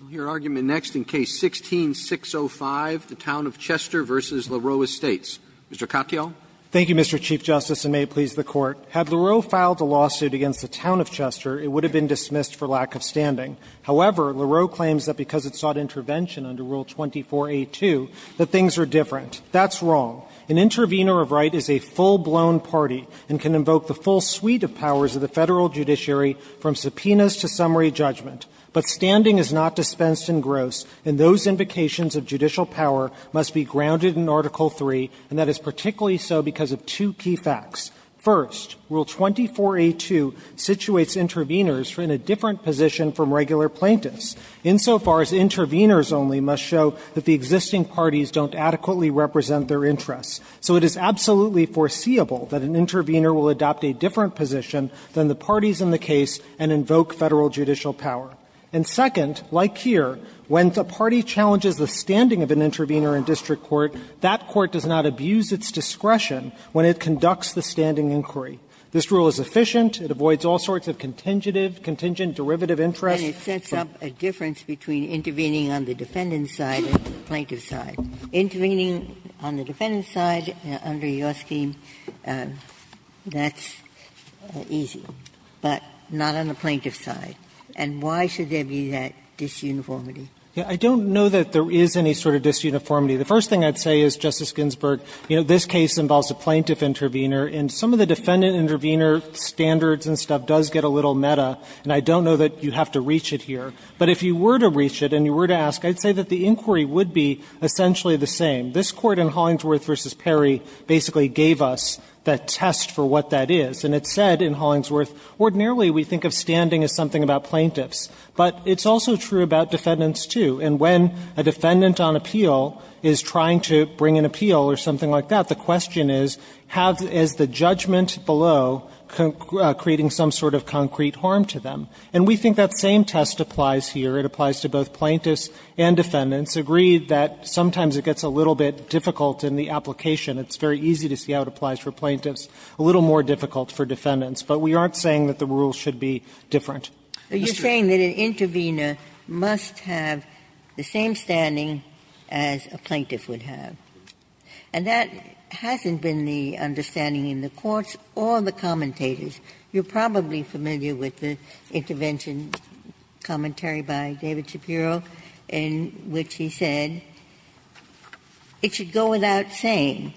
I'll hear argument next in Case 16-605, the Town of Chester v. Laroe Estates. Mr. Katyal. Katyal, Mr. Chief Justice, and may it please the Court. Had Laroe filed a lawsuit against the Town of Chester, it would have been dismissed for lack of standing. However, Laroe claims that because it sought intervention under Rule 24a2, that things are different. That's wrong. An intervener of right is a full-blown party and can invoke the full suite of powers of the Federal judiciary from subpoenas to summary judgment. But standing is not dispensed in gross, and those invocations of judicial power must be grounded in Article III, and that is particularly so because of two key facts. First, Rule 24a2 situates interveners in a different position from regular plaintiffs, insofar as interveners only must show that the existing parties don't adequately represent their interests. So it is absolutely foreseeable that an intervener will adopt a different position than the parties in the case and invoke Federal judicial power. And second, like here, when the party challenges the standing of an intervener in district court, that court does not abuse its discretion when it conducts the standing inquiry. This rule is efficient. It avoids all sorts of contingent derivative interests. Ginsburg. And it sets up a difference between intervening on the defendant's side and the plaintiff's side. Intervening on the defendant's side under your scheme, that's easy, but not on the plaintiff's side. And why should there be that disuniformity? Yeah. I don't know that there is any sort of disuniformity. The first thing I'd say is, Justice Ginsburg, you know, this case involves a plaintiff intervener, and some of the defendant intervener standards and stuff does get a little meta, and I don't know that you have to reach it here. But if you were to reach it and you were to ask, I'd say that the inquiry would be essentially the same. This Court in Hollingsworth v. Perry basically gave us that test for what that is. And it said in Hollingsworth, ordinarily we think of standing as something about plaintiffs, but it's also true about defendants, too. And when a defendant on appeal is trying to bring an appeal or something like that, the question is, is the judgment below creating some sort of concrete harm to them? And we think that same test applies here. It applies to both plaintiffs and defendants. Agree that sometimes it gets a little bit difficult in the application. It's very easy to see how it applies for plaintiffs, a little more difficult for defendants. But we aren't saying that the rules should be different. Ginsburg. Ginsburg. You're saying that an intervener must have the same standing as a plaintiff would have. And that hasn't been the understanding in the courts or the commentators. You're probably familiar with the intervention commentary by David Shapiro in which he said it should go without saying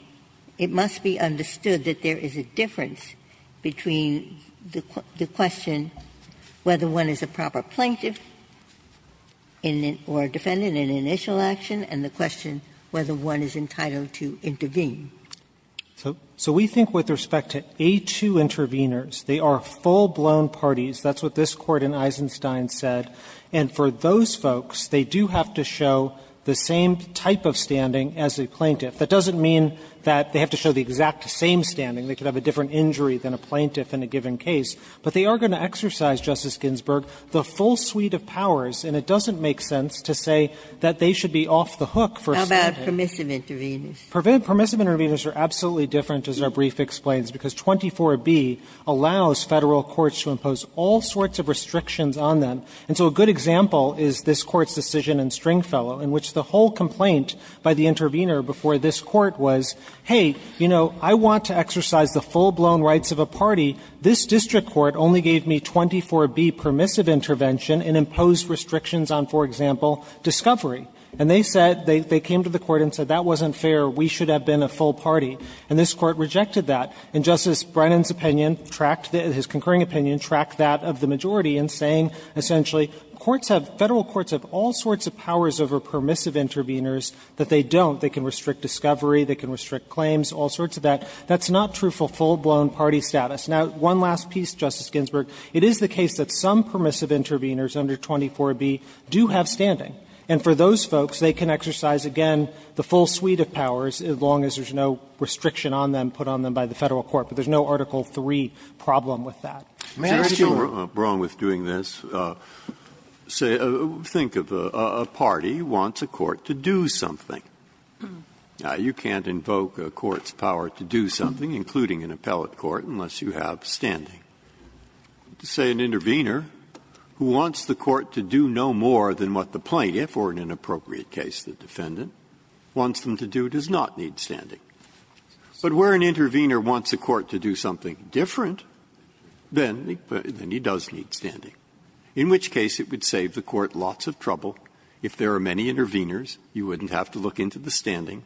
it must be understood that there is a difference between the question whether one is a proper plaintiff or defendant in initial action and the question whether one is entitled to intervene. So we think with respect to A2 interveners, they are full-blown parties. That's what this Court in Eisenstein said. And for those folks, they do have to show the same type of standing as a plaintiff. That doesn't mean that they have to show the exact same standing. They could have a different injury than a plaintiff in a given case. But they are going to exercise, Justice Ginsburg, the full suite of powers. And it doesn't make sense to say that they should be off the hook for a second. How about permissive interveners? Permissive interveners are absolutely different, as our brief explains, because 24b allows Federal courts to impose all sorts of restrictions on them. And so a good example is this Court's decision in Stringfellow in which the whole complaint by the intervener before this Court was, hey, you know, I want to exercise the full-blown rights of a party. This district court only gave me 24b permissive intervention and imposed restrictions on, for example, discovery. And they said, they came to the Court and said, that wasn't fair, we should have been a full party. And this Court rejected that. And Justice Brennan's opinion tracked, his concurring opinion tracked that of the majority in saying, essentially, courts have, Federal courts have all sorts of powers over permissive interveners that they don't. They can restrict discovery, they can restrict claims, all sorts of that. That's not true for full-blown party status. Now, one last piece, Justice Ginsburg. It is the case that some permissive interveners under 24b do have standing. And for those folks, they can exercise, again, the full suite of powers as long as there's no restriction on them put on them by the Federal court. But there's no Article III problem with that. Breyer, you're wrong with doing this. Say, think of a party wants a court to do something. You can't invoke a court's power to do something, including an appellate court, unless you have standing. To say an intervener who wants the court to do no more than what the plaintiff or, in an appropriate case, the defendant, wants them to do does not need standing. But where an intervener wants a court to do something different, then he does need standing, in which case it would save the court lots of trouble if there are many interveners. You wouldn't have to look into the standing,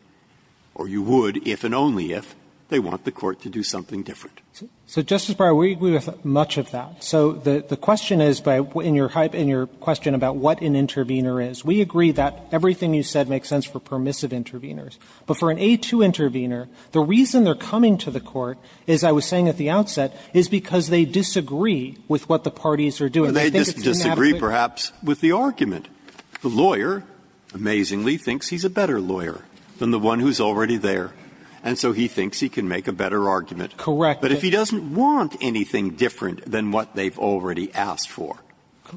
or you would if and only if they want the court to do something different. So, Justice Breyer, we agree with much of that. So the question is, in your question about what an intervener is, we agree that everything you said makes sense for permissive interveners. But for an A2 intervener, the reason they're coming to the court, as I was saying at the outset, is because they disagree with what the parties are doing. I think it's inadequate. But they disagree, perhaps, with the argument. The lawyer, amazingly, thinks he's a better lawyer than the one who's already there. And so he thinks he can make a better argument. Correct. But if he doesn't want anything different than what they've already asked for,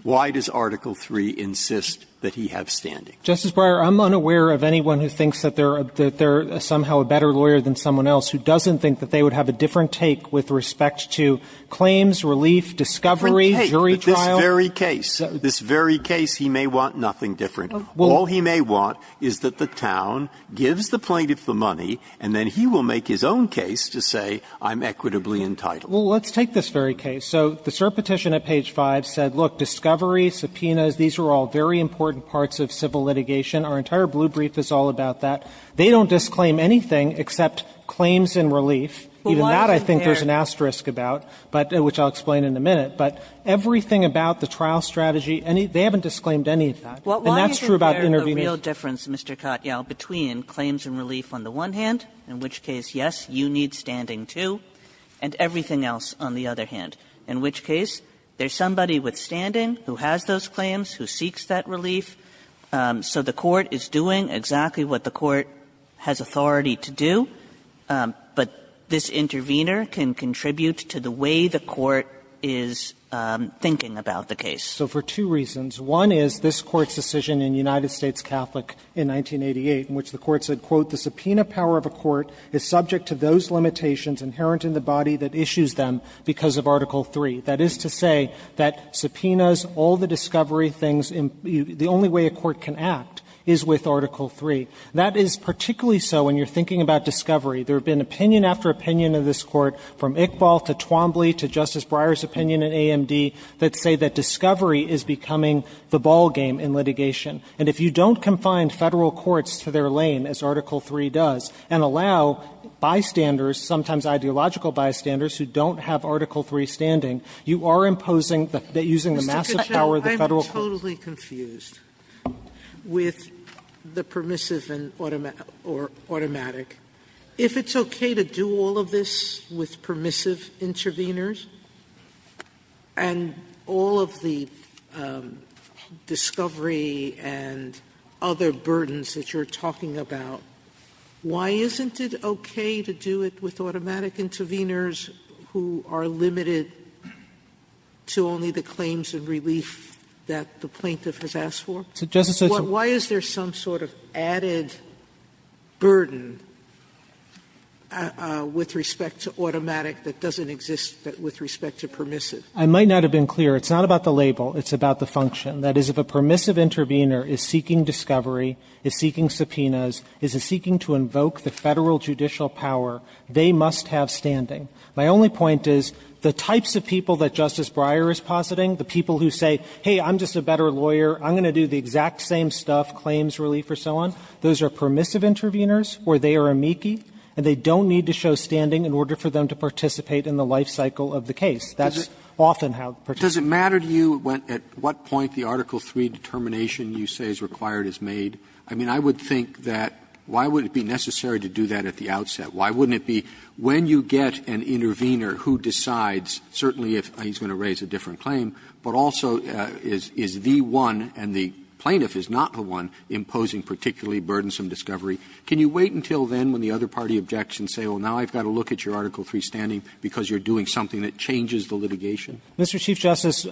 why does Article III insist that he have standing? Justice Breyer, I'm unaware of anyone who thinks that they're somehow a better lawyer than someone else who doesn't think that they would have a different take with respect to claims, relief, discovery, jury trial. A different take, but this very case, this very case, he may want nothing different. All he may want is that the town gives the plaintiff the money, and then he will make his own case to say, I'm equitably entitled. Well, let's take this very case. So the cert petition at page 5 said, look, discovery, subpoenas, these are all very important parts of civil litigation. Our entire blue brief is all about that. They don't disclaim anything except claims and relief. Even that I think there's an asterisk about, but which I'll explain in a minute. But everything about the trial strategy, they haven't disclaimed any of that. And that's true about interveners. In which case, yes, you need standing, too, and everything else on the other hand. In which case, there's somebody withstanding who has those claims, who seeks that relief, so the court is doing exactly what the court has authority to do, but this intervener can contribute to the way the court is thinking about the case. So for two reasons. One is this Court's decision in United States Catholic in 1988, in which the Court said, quote, the subpoena power of a court is subject to those limitations inherent in the body that issues them, because of Article III. That is to say that subpoenas, all the discovery things, the only way a court can act is with Article III. That is particularly so when you're thinking about discovery. There have been opinion after opinion of this Court, from Iqbal to Twombly to Justice Sotomayor, that discovery is becoming the ball game in litigation. And if you don't confine Federal courts to their lane, as Article III does, and allow bystanders, sometimes ideological bystanders, who don't have Article III standing, you are imposing the using the massive power of the Federal courts. Sotomayor, I'm totally confused with the permissive and automatic. If it's okay to do all of this with permissive interveners, and all of the subpoenas and all of the discovery and other burdens that you're talking about, why isn't it okay to do it with automatic interveners who are limited to only the claims and relief that the plaintiff has asked for? Why is there some sort of added burden with respect to automatic that doesn't exist with respect to permissive? I might not have been clear. It's not about the label. It's about the function. That is, if a permissive intervener is seeking discovery, is seeking subpoenas, is seeking to invoke the Federal judicial power, they must have standing. My only point is, the types of people that Justice Breyer is positing, the people who say, hey, I'm just a better lawyer, I'm going to do the exact same stuff, claims, relief, or so on, those are permissive interveners, or they are amici, and they don't need to show standing in order for them to participate in the life cycle of the case. That's often how participants do it. Roberts, does it matter to you at what point the Article III determination you say is required is made? I mean, I would think that why would it be necessary to do that at the outset? Why wouldn't it be when you get an intervener who decides, certainly if he's going to raise a different claim, but also is the one, and the plaintiff is not the one, imposing particularly burdensome discovery, can you wait until then when the other party objects and say, well, now I've got to look at your Article III standing because you're doing something that changes the litigation? Mr. Chief Justice,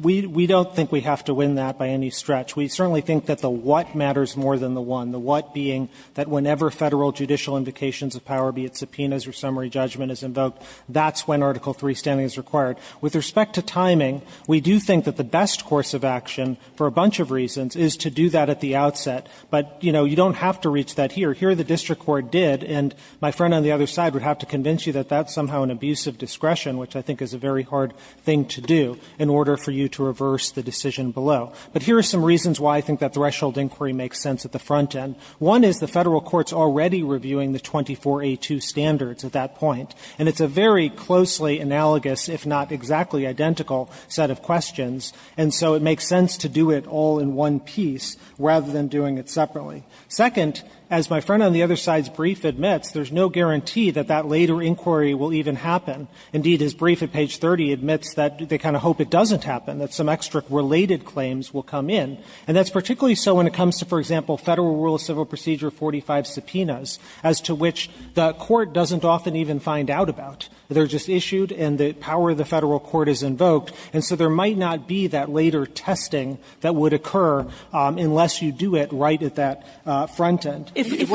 we don't think we have to win that by any stretch. We certainly think that the what matters more than the one, the what being that whenever Federal judicial invocations of power, be it subpoenas or summary judgment, is invoked, that's when Article III standing is required. With respect to timing, we do think that the best course of action, for a bunch of reasons, is to do that at the outset. But, you know, you don't have to reach that here. Here the district court did, and my friend on the other side would have to convince you that that's somehow an abuse of discretion, which I think is a very hard thing to do, in order for you to reverse the decision below. But here are some reasons why I think that threshold inquiry makes sense at the front end. One is the Federal court's already reviewing the 24A2 standards at that point, and it's a very closely analogous, if not exactly identical, set of questions, and so it makes sense to do it all in one piece rather than doing it separately. Second, as my friend on the other side's brief admits, there's no guarantee that that later inquiry will even happen. Indeed, his brief at page 30 admits that they kind of hope it doesn't happen, that some extrict-related claims will come in. And that's particularly so when it comes to, for example, Federal Rule of Civil Procedure 45 subpoenas, as to which the Court doesn't often even find out about. They're just issued and the power of the Federal court is invoked, and so there might not be that later testing that would occur unless you do it right at that front end. If it is the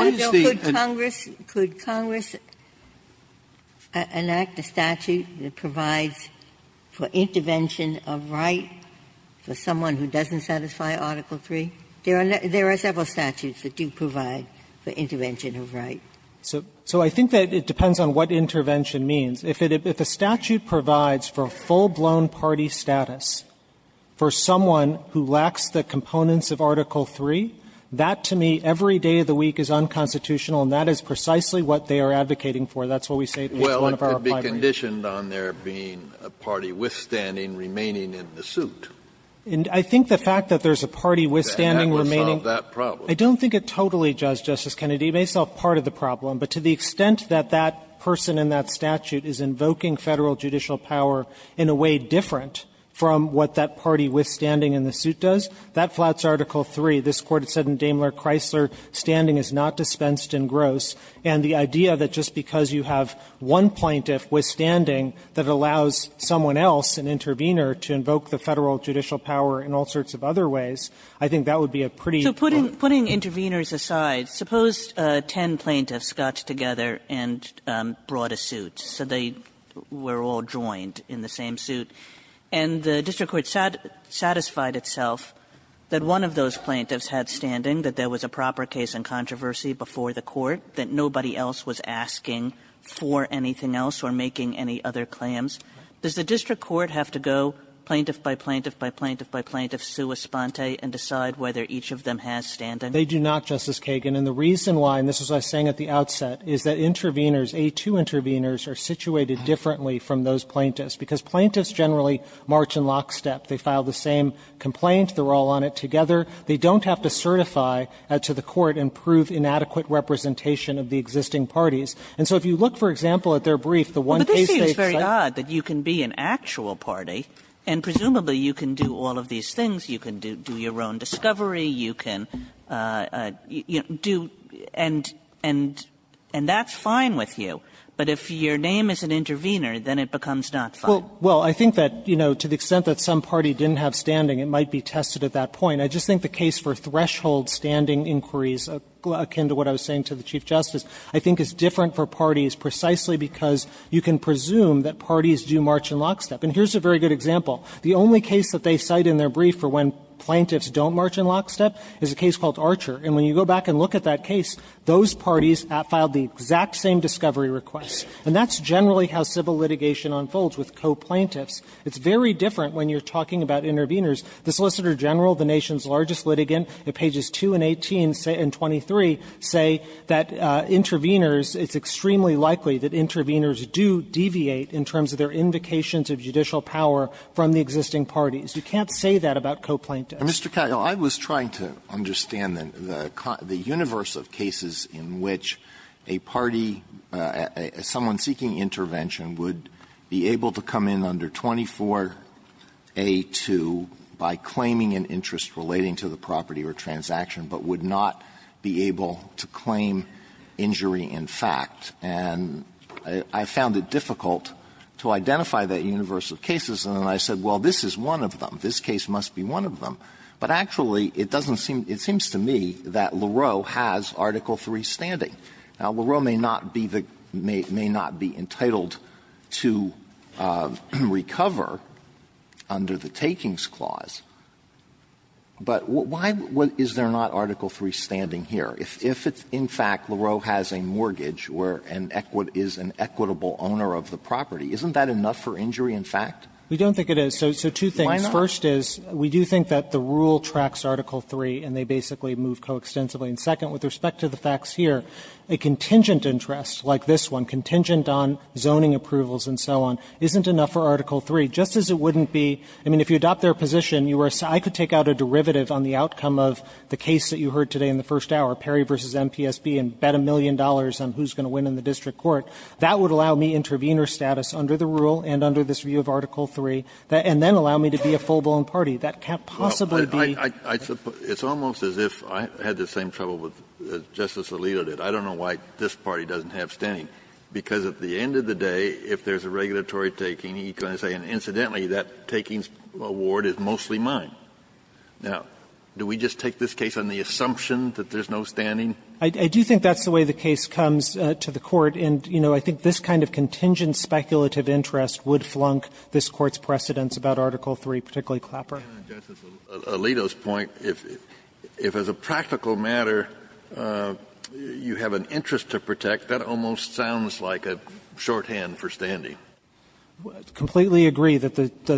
and the statute that provides for intervention of right for someone who doesn't satisfy Article III, there are several statutes that do provide for intervention of right. So I think that it depends on what intervention means. If a statute provides for full-blown party status for someone who lacks the components of Article III, that, to me, every day of the week is unconstitutional and that is precisely what they are advocating for. That's what we say in each one of our applied briefs. Kennedy, it could be conditioned on there being a party withstanding remaining in the suit. And I think the fact that there's a party withstanding remaining the suit, I don't think it totally does, Justice Kennedy. It may solve part of the problem, but to the extent that that person in that statute is invoking Federal judicial power in a way different from what that party withstanding in the suit does, that flouts Article III. This Court has said in Daimler-Chrysler, standing is not dispensed in gross. And the idea that just because you have one plaintiff withstanding, that allows someone else, an intervener, to invoke the Federal judicial power in all sorts of other ways, I think that would be a pretty good one. Kagan, putting interveners aside, suppose ten plaintiffs got together and brought a suit, so they were all joined in the same suit. And the district court satisfied itself that one of those plaintiffs had standing, that there was a proper case in controversy before the Court, that nobody else was asking for anything else or making any other claims. Does the district court have to go plaintiff by plaintiff by plaintiff by plaintiff sua sponte and decide whether each of them has standing? They do not, Justice Kagan. And the reason why, and this is what I was saying at the outset, is that interveners, A2 interveners, are situated differently from those plaintiffs, because plaintiffs generally march in lockstep. They file the same complaint. They're all on it together. They don't have to certify to the Court and prove inadequate representation of the existing parties. And so if you look, for example, at their brief, the one case they cited. Kagan But this seems very odd, that you can be an actual party, and presumably you can do all of these things, you can do your own discovery, you can do and that's fine with you, but if your name is an intervener, then it becomes not fine. Katyal Well, I think that, you know, to the extent that some party didn't have standing, it might be tested at that point. I just think the case for threshold standing inquiries, akin to what I was saying to the Chief Justice, I think is different for parties precisely because you can presume that parties do march in lockstep. And here's a very good example. The only case that they cite in their brief for when plaintiffs don't march in lockstep is a case called Archer. And when you go back and look at that case, those parties filed the exact same discovery requests. And that's generally how civil litigation unfolds with coplaintiffs. It's very different when you're talking about interveners. The Solicitor General, the nation's largest litigant, at pages 2 and 18 and 23 say that interveners, it's extremely likely that interveners do deviate in terms of their invocations of judicial power from the existing parties. You can't say that about coplaintiffs. Alito, I was trying to understand the universe of cases in which a party, someone seeking intervention would be able to come in under 24A2 by claiming an interest relating to the property or transaction, but would not be able to claim injury in fact. And I found it difficult to identify that universe of cases. And then I said, well, this is one of them. This case must be one of them. But actually, it doesn't seem to me that Lareau has Article III standing. Now, Lareau may not be the – may not be entitled to recover under the takings clause, but why is there not Article III standing here? If it's in fact Lareau has a mortgage where an equi – is an equitable owner of the property, isn't that enough for injury in fact? We don't think it is. So two things. Why not? First is, we do think that the rule tracks Article III, and they basically move coextensively. And second, with respect to the facts here, a contingent interest like this one, contingent on zoning approvals and so on, isn't enough for Article III, just as it wouldn't be – I mean, if you adopt their position, you were – I could take out a derivative on the outcome of the case that you heard today in the first hour, Perry v. MPSB, and bet a million dollars on who's going to win in the district court. That would allow me intervener status under the rule and under this view of Article III, and then allow me to be a full-blown party. That can't possibly be – Kennedy, it's almost as if I had the same trouble with Justice Alito did. I don't know why this party doesn't have standing, because at the end of the day, if there's a regulatory taking, he's going to say, and incidentally, that takings award is mostly mine. Now, do we just take this case on the assumption that there's no standing? I do think that's the way the case comes to the Court, and, you know, I think this kind of contingent speculative interest would flunk this Court's precedents about Article III, particularly Clapper. Justice Alito's point, if as a practical matter you have an interest to protect, that almost sounds like a shorthand for standing. I completely agree that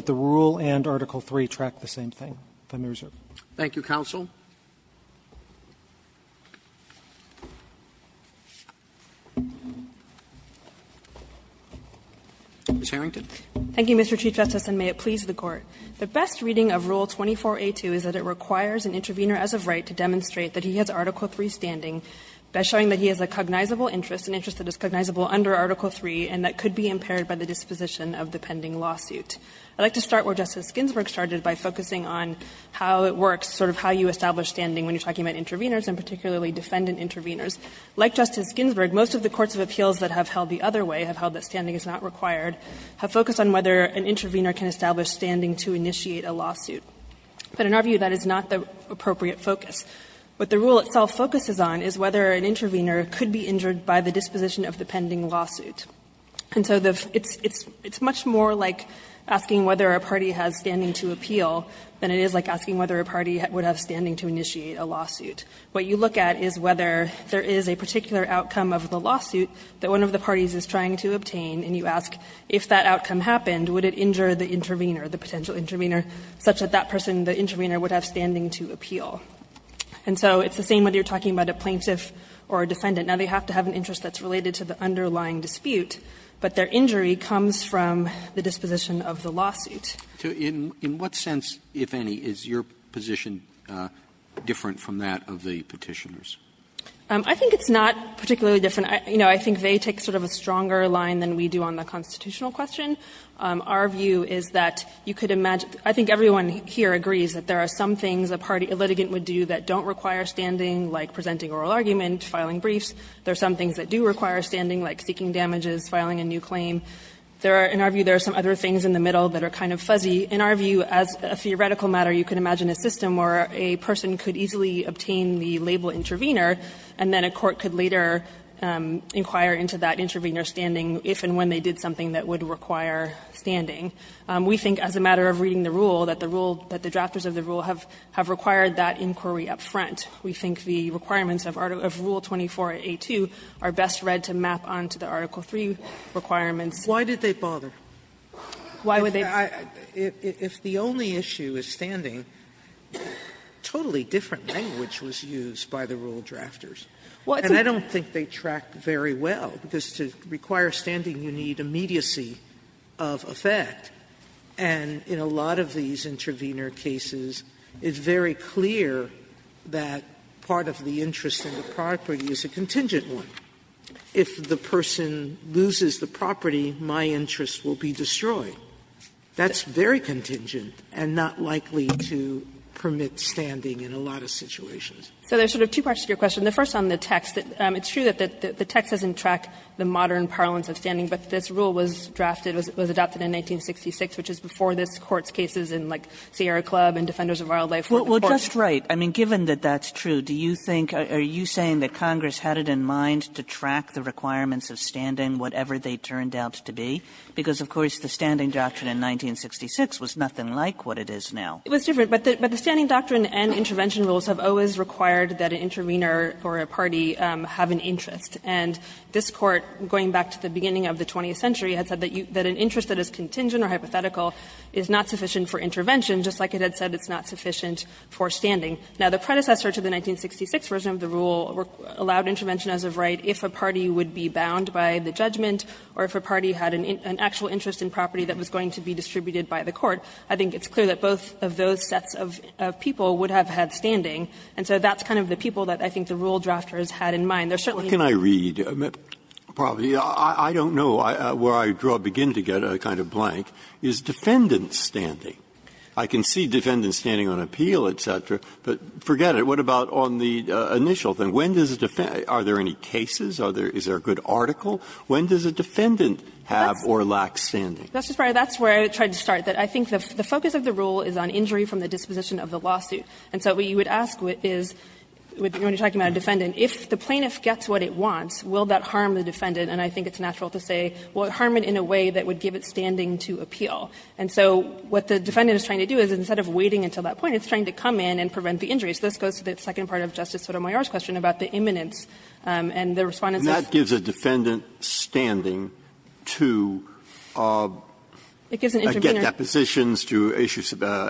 the rule and Article III track the same thing. If I may, Your Honor. Thank you, counsel. Ms. Harrington. Thank you, Mr. Chief Justice, and may it please the Court. The best reading of Rule 24a2 is that it requires an intervener as of right to demonstrate that he has Article III standing by showing that he has a cognizable interest, an interest that is cognizable under Article III and that could be impaired by the disposition of the pending lawsuit. I'd like to start where Justice Ginsburg started by focusing on how it works, sort of how you establish standing when you're talking about interveners and particularly defendant interveners. Like Justice Ginsburg, most of the courts of appeals that have held the other way, have held that standing is not required, have focused on whether an intervener can establish standing to initiate a lawsuit. But in our view, that is not the appropriate focus. What the rule itself focuses on is whether an intervener could be injured by the disposition of the pending lawsuit. And so it's much more like asking whether a party has standing to appeal than it is like asking whether a party would have standing to initiate a lawsuit. What you look at is whether there is a particular outcome of the lawsuit that one of the parties is trying to obtain, and you ask if that outcome happened, would it injure the intervener, the potential intervener, such that that person, the intervener, would have standing to appeal. And so it's the same whether you're talking about a plaintiff or a defendant. Now, they have to have an interest that's related to the underlying dispute, but their injury comes from the disposition of the lawsuit. Roberts In what sense, if any, is your position different from that of the Petitioners? I think it's not particularly different. You know, I think they take sort of a stronger line than we do on the constitutional question. Our view is that you could imagine – I think everyone here agrees that there are some things a party, a litigant would do that don't require standing, like presenting oral argument, filing briefs. There are some things that do require standing, like seeking damages, filing a new claim. In our view, there are some other things in the middle that are kind of fuzzy. In our view, as a theoretical matter, you could imagine a system where a person could easily obtain the label intervener, and then a court could later inquire into that intervener's standing if and when they did something that would require standing. We think as a matter of reading the rule, that the rule, that the drafters of the rule have required that inquiry up front. We think the requirements of Rule 24a2 are best read to map on to the Article 3 requirements Why did they bother? Why would they bother? If the only issue is standing, totally different language was used by the rule drafters. Well, I don't think they track very well, because to require standing you need immediacy of effects, and in a lot of these intervener cases, it's very clear that part of the interest in the property is a contingent one. If the person loses the property, my interest will be destroyed. That's very contingent and not likely to permit standing in a lot of situations. So there's sort of two parts to your question. The first on the text, it's true that the text doesn't track the modern parlance of standing, but this rule was drafted, was adopted in 1966, which is before this Court's cases in, like, Sierra Club and Defenders of Wildlife were important. Well, just right. I mean, given that that's true, do you think or are you saying that Congress had it in mind to track the requirements of standing, whatever they turned out to be? Because, of course, the standing doctrine in 1966 was nothing like what it is now. It was different, but the standing doctrine and intervention rules have always required that an intervener or a party have an interest, and this Court, going back to the beginning of the 20th century, had said that an interest that is contingent or hypothetical is not sufficient for intervention, just like it had said it's not Now, the predecessor to the 1966 version of the rule allowed intervention as of right if a party would be bound by the judgment or if a party had an actual interest in property that was going to be distributed by the Court. I think it's clear that both of those sets of people would have had standing, and so that's kind of the people that I think the rule drafters had in mind. There certainly are. Breyer, What can I read? Probably, I don't know, where I begin to get a kind of blank, is defendant's standing. I can see defendant standing on appeal, et cetera, but forget it. What about on the initial thing? When does a defendant – are there any cases? Is there a good article? When does a defendant have or lack standing? That's where I tried to start. I think the focus of the rule is on injury from the disposition of the lawsuit. And so what you would ask is, when you're talking about a defendant, if the plaintiff gets what it wants, will that harm the defendant? And I think it's natural to say, will it harm it in a way that would give it standing to appeal? And so what the defendant is trying to do is, instead of waiting until that point, it's trying to come in and prevent the injury. So this goes to the second part of Justice Sotomayor's question about the imminence and the Respondent says – Breyer, and that gives a defendant standing to get depositions, to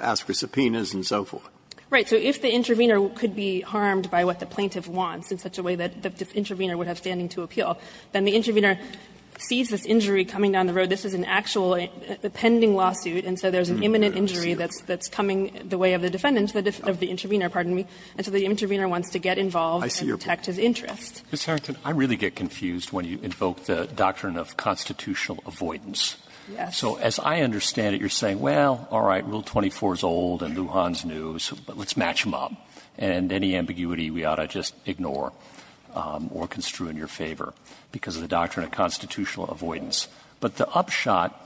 ask for subpoenas and so forth? Right. So if the intervener could be harmed by what the plaintiff wants in such a way that the intervener would have standing to appeal, then the intervener sees this injury coming down the road. This is an actual pending lawsuit, and so there's an imminent injury that's coming the way of the defendant, of the intervener, pardon me, and so the intervener wants to get involved and protect his interest. Mr. Harrington, I really get confused when you invoke the doctrine of constitutional avoidance. So as I understand it, you're saying, well, all right, Rule 24 is old and Lujan's new, so let's match them up. And any ambiguity we ought to just ignore or construe in your favor because of the doctrine of constitutional avoidance. But the upshot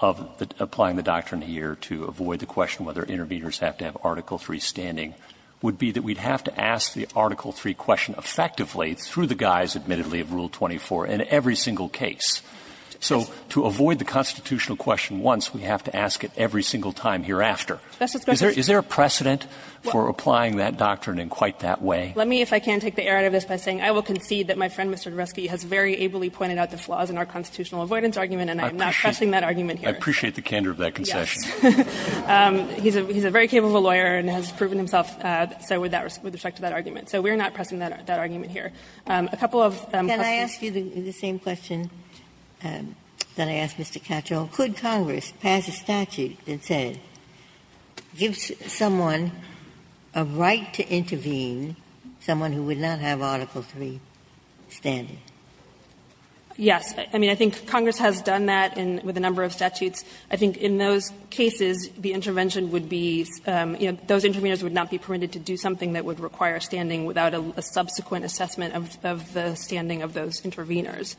of applying the doctrine here to avoid the question whether interveners have to have Article III standing would be that we'd have to ask the Article III question effectively through the guise, admittedly, of Rule 24 in every single case. So to avoid the constitutional question once, we have to ask it every single time hereafter. Is there a precedent for applying that doctrine in quite that way? Let me, if I can, take the air out of this by saying I will concede that my friend, Mr. Doreski, has very ably pointed out the flaws in our constitutional avoidance argument, and I'm not pressing that argument here. Roberts. I appreciate the candor of that concession. Yes. He's a very capable lawyer and has proven himself so with respect to that argument. So we're not pressing that argument here. A couple of questions. Ginsburg. Can I ask you the same question that I asked Mr. Cattrall? Could Congress pass a statute that said, gives someone a right to intervene, someone who would not have Article III standing? Yes. I mean, I think Congress has done that with a number of statutes. I think in those cases, the intervention would be, you know, those interveners would not be permitted to do something that would require standing without a subsequent assessment of the standing of those interveners.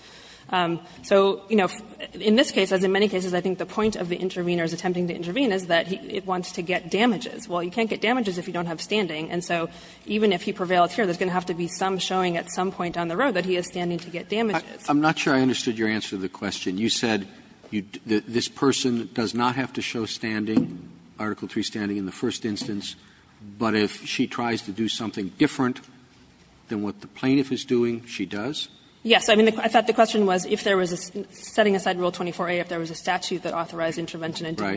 So, you know, in this case, as in many cases, I think the point of the intervener's attempting to intervene is that it wants to get damages. Well, you can't get damages if you don't have standing. And so even if he prevails here, there's going to have to be some showing at some point down the road that he is standing to get damages. I'm not sure I understood your answer to the question. You said this person does not have to show standing, Article III standing in the first instance, but if she tries to do something different than what the plaintiff is doing, she does? Yes. I mean, I thought the question was if there was a setting aside Rule 24a, if there was a statute that authorized intervention and didn't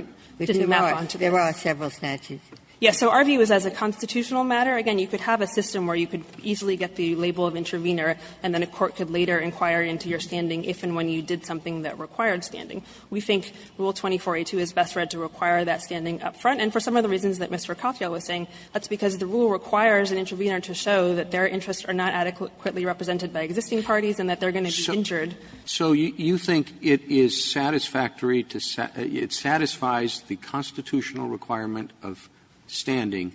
map onto that. Right. There are several statutes. Yes. So our view is as a constitutional matter, again, you could have a system where you could easily get the label of intervener, and then a court could later inquire into your standing if and when you did something that required standing. We think Rule 24a2 is best read to require that standing up front. And for some of the reasons that Mr. Katyal was saying, that's because the rule requires an intervener to show that their interests are not adequately represented by existing parties and that they're going to be injured. So you think it is satisfactory to say that it satisfies the constitutional requirement of standing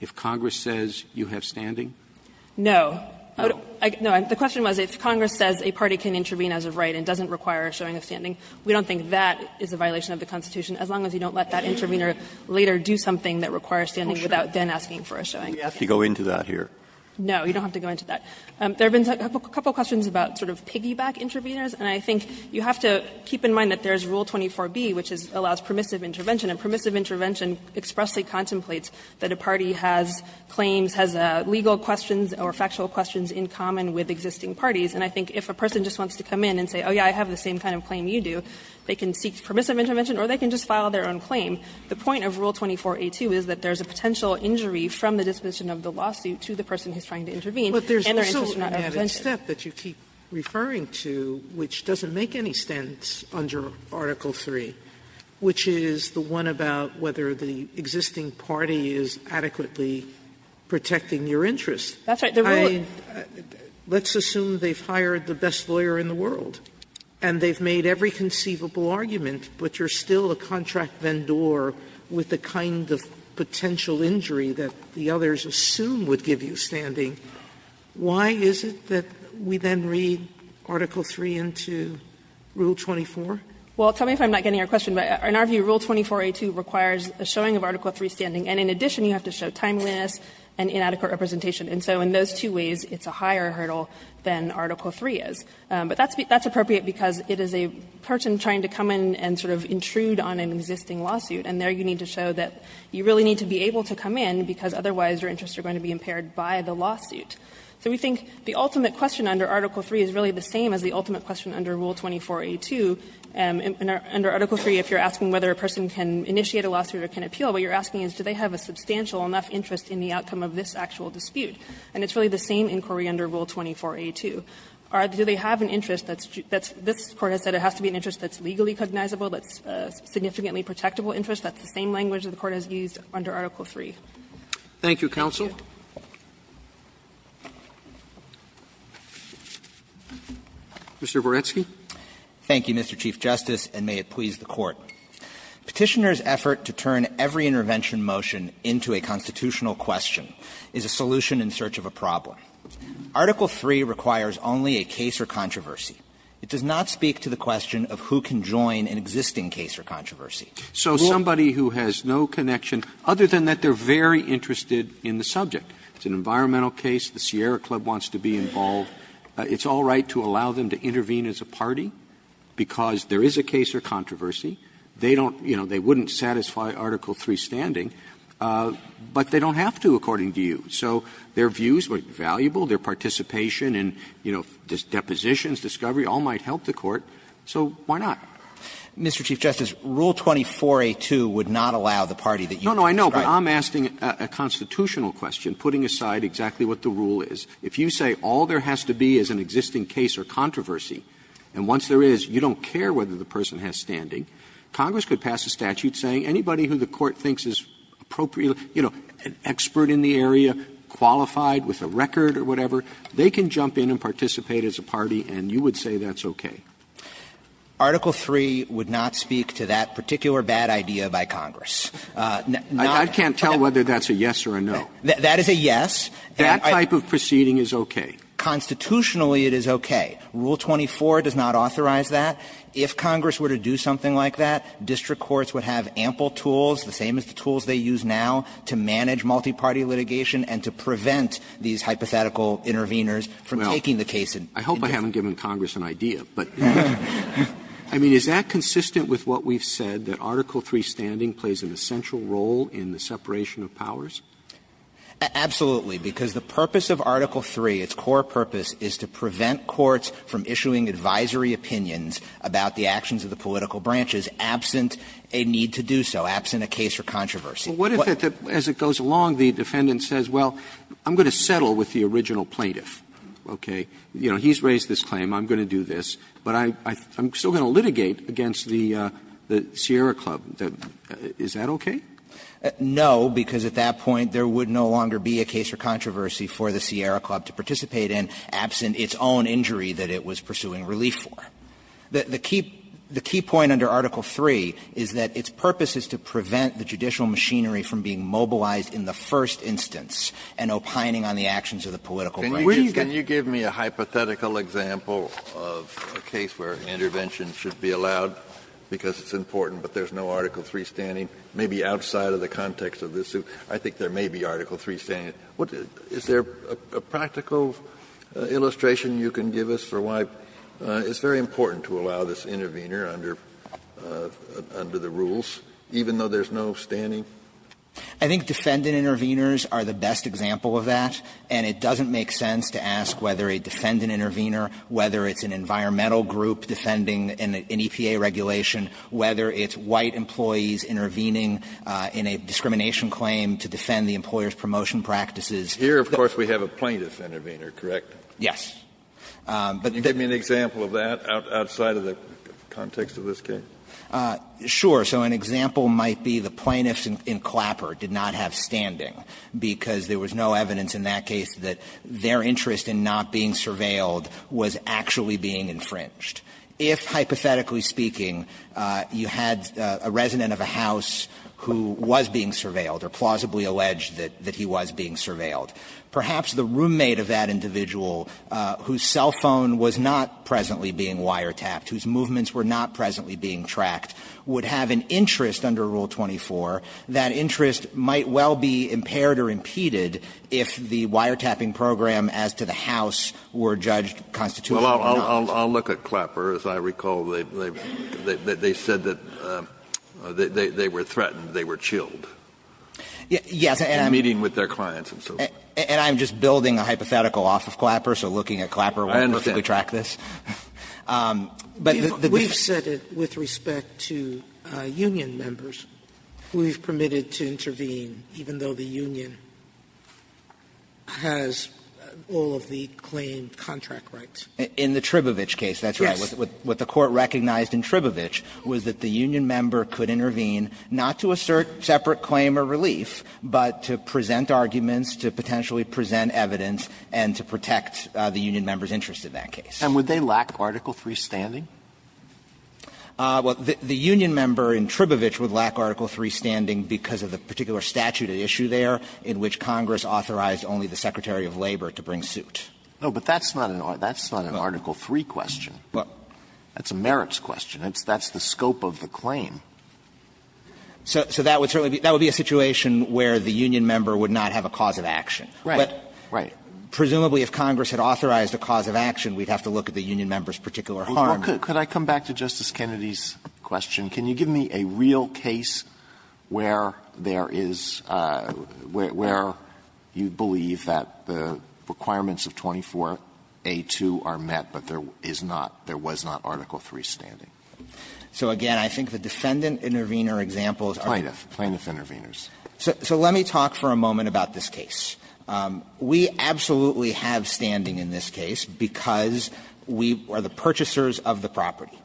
if Congress says you have standing? No. No. The question was if Congress says a party can intervene as of right and doesn't require a showing of standing, we don't think that is a violation of the Constitution as long as you don't let that intervener later do something that requires standing without then asking for a showing. You have to go into that here. No. You don't have to go into that. There have been a couple of questions about sort of piggyback interveners, and I think you have to keep in mind that there's Rule 24b, which allows permissive intervention, and permissive intervention expressly contemplates that a party has claims, has legal questions or factual questions in common with existing parties. And I think if a person just wants to come in and say, oh, yeah, I have the same kind of claim you do, they can seek permissive intervention or they can just file their own claim. The point of Rule 24a2 is that there's a potential injury from the disposition of the lawsuit to the person who's trying to intervene and their interests are not represented. Sotomayor, which doesn't make any sense under Article III, which is that there's a potential injury from the disposition of the lawsuit to the person who's trying to intervene and their interests are not represented. The question is the one about whether the existing party is adequately protecting your interests. Let's assume they've hired the best lawyer in the world and they've made every conceivable argument, but you're still a contract vendor with the kind of potential injury that the others assume would give you standing. Why is it that we then read Article III into Rule 24? Well, tell me if I'm not getting your question, but in our view, Rule 24a2 requires a showing of Article III standing. And in addition, you have to show timeliness and inadequate representation. And so in those two ways, it's a higher hurdle than Article III is. But that's appropriate because it is a person trying to come in and sort of intrude on an existing lawsuit, and there you need to show that you really need to be able to come in because otherwise your interests are going to be impaired by the lawsuit. So we think the ultimate question under Article III is really the same as the ultimate question under Rule 24a2. Under Article III, if you're asking whether a person can initiate a lawsuit or can appeal, what you're asking is do they have a substantial enough interest in the outcome of this actual dispute. And it's really the same inquiry under Rule 24a2. Do they have an interest that's just that's this Court has said it has to be an interest that's legally cognizable, that's significantly protectable interest, that's the same language that the Court has used under Article III. Roberts. Thank you, counsel. Mr. Boretsky. Thank you, Mr. Chief Justice, and may it please the Court. Petitioner's effort to turn every intervention motion into a constitutional question is a solution in search of a problem. Article III requires only a case or controversy. It does not speak to the question of who can join an existing case or controversy. So somebody who has no connection, other than that they're very interested in the subject. It's an environmental case. The Sierra Club wants to be involved. It's all right to allow them to intervene as a party, because there is a case or controversy. They don't, you know, they wouldn't satisfy Article III standing, but they don't have to, according to you. So their views might be valuable, their participation in, you know, depositions, discovery, all might help the Court. So why not? Mr. Chief Justice, Rule 24a2 would not allow the party that you just described. No, no, I know, but I'm asking a constitutional question, putting aside exactly what the rule is. If you say all there has to be is an existing case or controversy, and once there is, you don't care whether the person has standing, Congress could pass a statute saying anybody who the Court thinks is appropriate, you know, an expert in the area, qualified, with a record or whatever, they can jump in and participate as a party, and you would say that's okay. Article III would not speak to that particular bad idea by Congress. Not that I can't tell whether that's a yes or a no. That is a yes. That type of proceeding is okay. Constitutionally, it is okay. Rule 24 does not authorize that. If Congress were to do something like that, district courts would have ample tools, the same as the tools they use now, to manage multiparty litigation and to prevent these hypothetical interveners from taking the case. Roberts I hope I haven't given Congress an idea, but I mean, is that consistent with what we've said, that Article III standing plays an essential role in the separation of powers? Absolutely, because the purpose of Article III, its core purpose, is to prevent courts from issuing advisory opinions about the actions of the political branches absent a need to do so, absent a case or controversy. But what if, as it goes along, the defendant says, well, I'm going to settle with the original plaintiff, okay? You know, he's raised this claim, I'm going to do this, but I'm still going to litigate against the Sierra Club. Is that okay? No, because at that point, there would no longer be a case or controversy for the Sierra Club to participate in, absent its own injury that it was pursuing relief for. The key point under Article III is that its purpose is to prevent the judicial machinery from being mobilized in the first instance and opining on the actions of the political branches. Kennedy, can you give me a hypothetical example of a case where intervention should be allowed because it's important, but there's no Article III standing? Maybe outside of the context of this suit, I think there may be Article III standing. Is there a practical illustration you can give us for why it's very important to allow this intervener under the rules, even though there's no standing? I think defendant interveners are the best example of that, and it doesn't make sense to ask whether a defendant intervener, whether it's an environmental group defending an EPA regulation, whether it's white employees intervening in a discrimination claim to defend the employer's promotion practices. Here, of course, we have a plaintiff intervener, correct? Yes. Can you give me an example of that outside of the context of this case? Sure. So an example might be the plaintiffs in Clapper did not have standing, because there was no evidence in that case that their interest in not being surveilled was actually being infringed. If, hypothetically speaking, you had a resident of a house who was being surveilled or plausibly alleged that he was being surveilled, perhaps the roommate of that individual, whose cell phone was not presently being wiretapped, whose movements were not presently being tracked, would have an interest under Rule 24. That interest might well be impaired or impeded if the wiretapping program as to the house were judged constitutively not. Well, I'll look at Clapper. As I recall, they said that they were threatened, they were chilled. Yes, and I'm just building a hypothetical off of Clapper, so looking at Clapper won't perfectly track this. But the difference is that the plaintiffs were not surveilled. We've said it with respect to union members. We've permitted to intervene, even though the union has all of the claimed contract rights. In the Tribovich case, that's right. Yes. What the Court recognized in Tribovich was that the union member could intervene not to assert separate claim or relief, but to present arguments, to potentially present evidence, and to protect the union member's interest in that case. And would they lack Article III standing? Well, the union member in Tribovich would lack Article III standing because of the particular statute at issue there in which Congress authorized only the Secretary of Labor to bring suit. No, but that's not an Article III question. That's a merits question. That's the scope of the claim. So that would certainly be a situation where the union member would not have a cause of action. But presumably if Congress had authorized a cause of action, we'd have to look at the union member's particular harm. Alitoso, could I come back to Justice Kennedy's question? Can you give me a real case where there is – where you believe that the requirements of 24A2 are met, but there is not, there was not Article III standing? So again, I think the defendant intervener examples are the plaintiff interveners. So let me talk for a moment about this case. We absolutely have standing in this case because we are the purchasers of the property.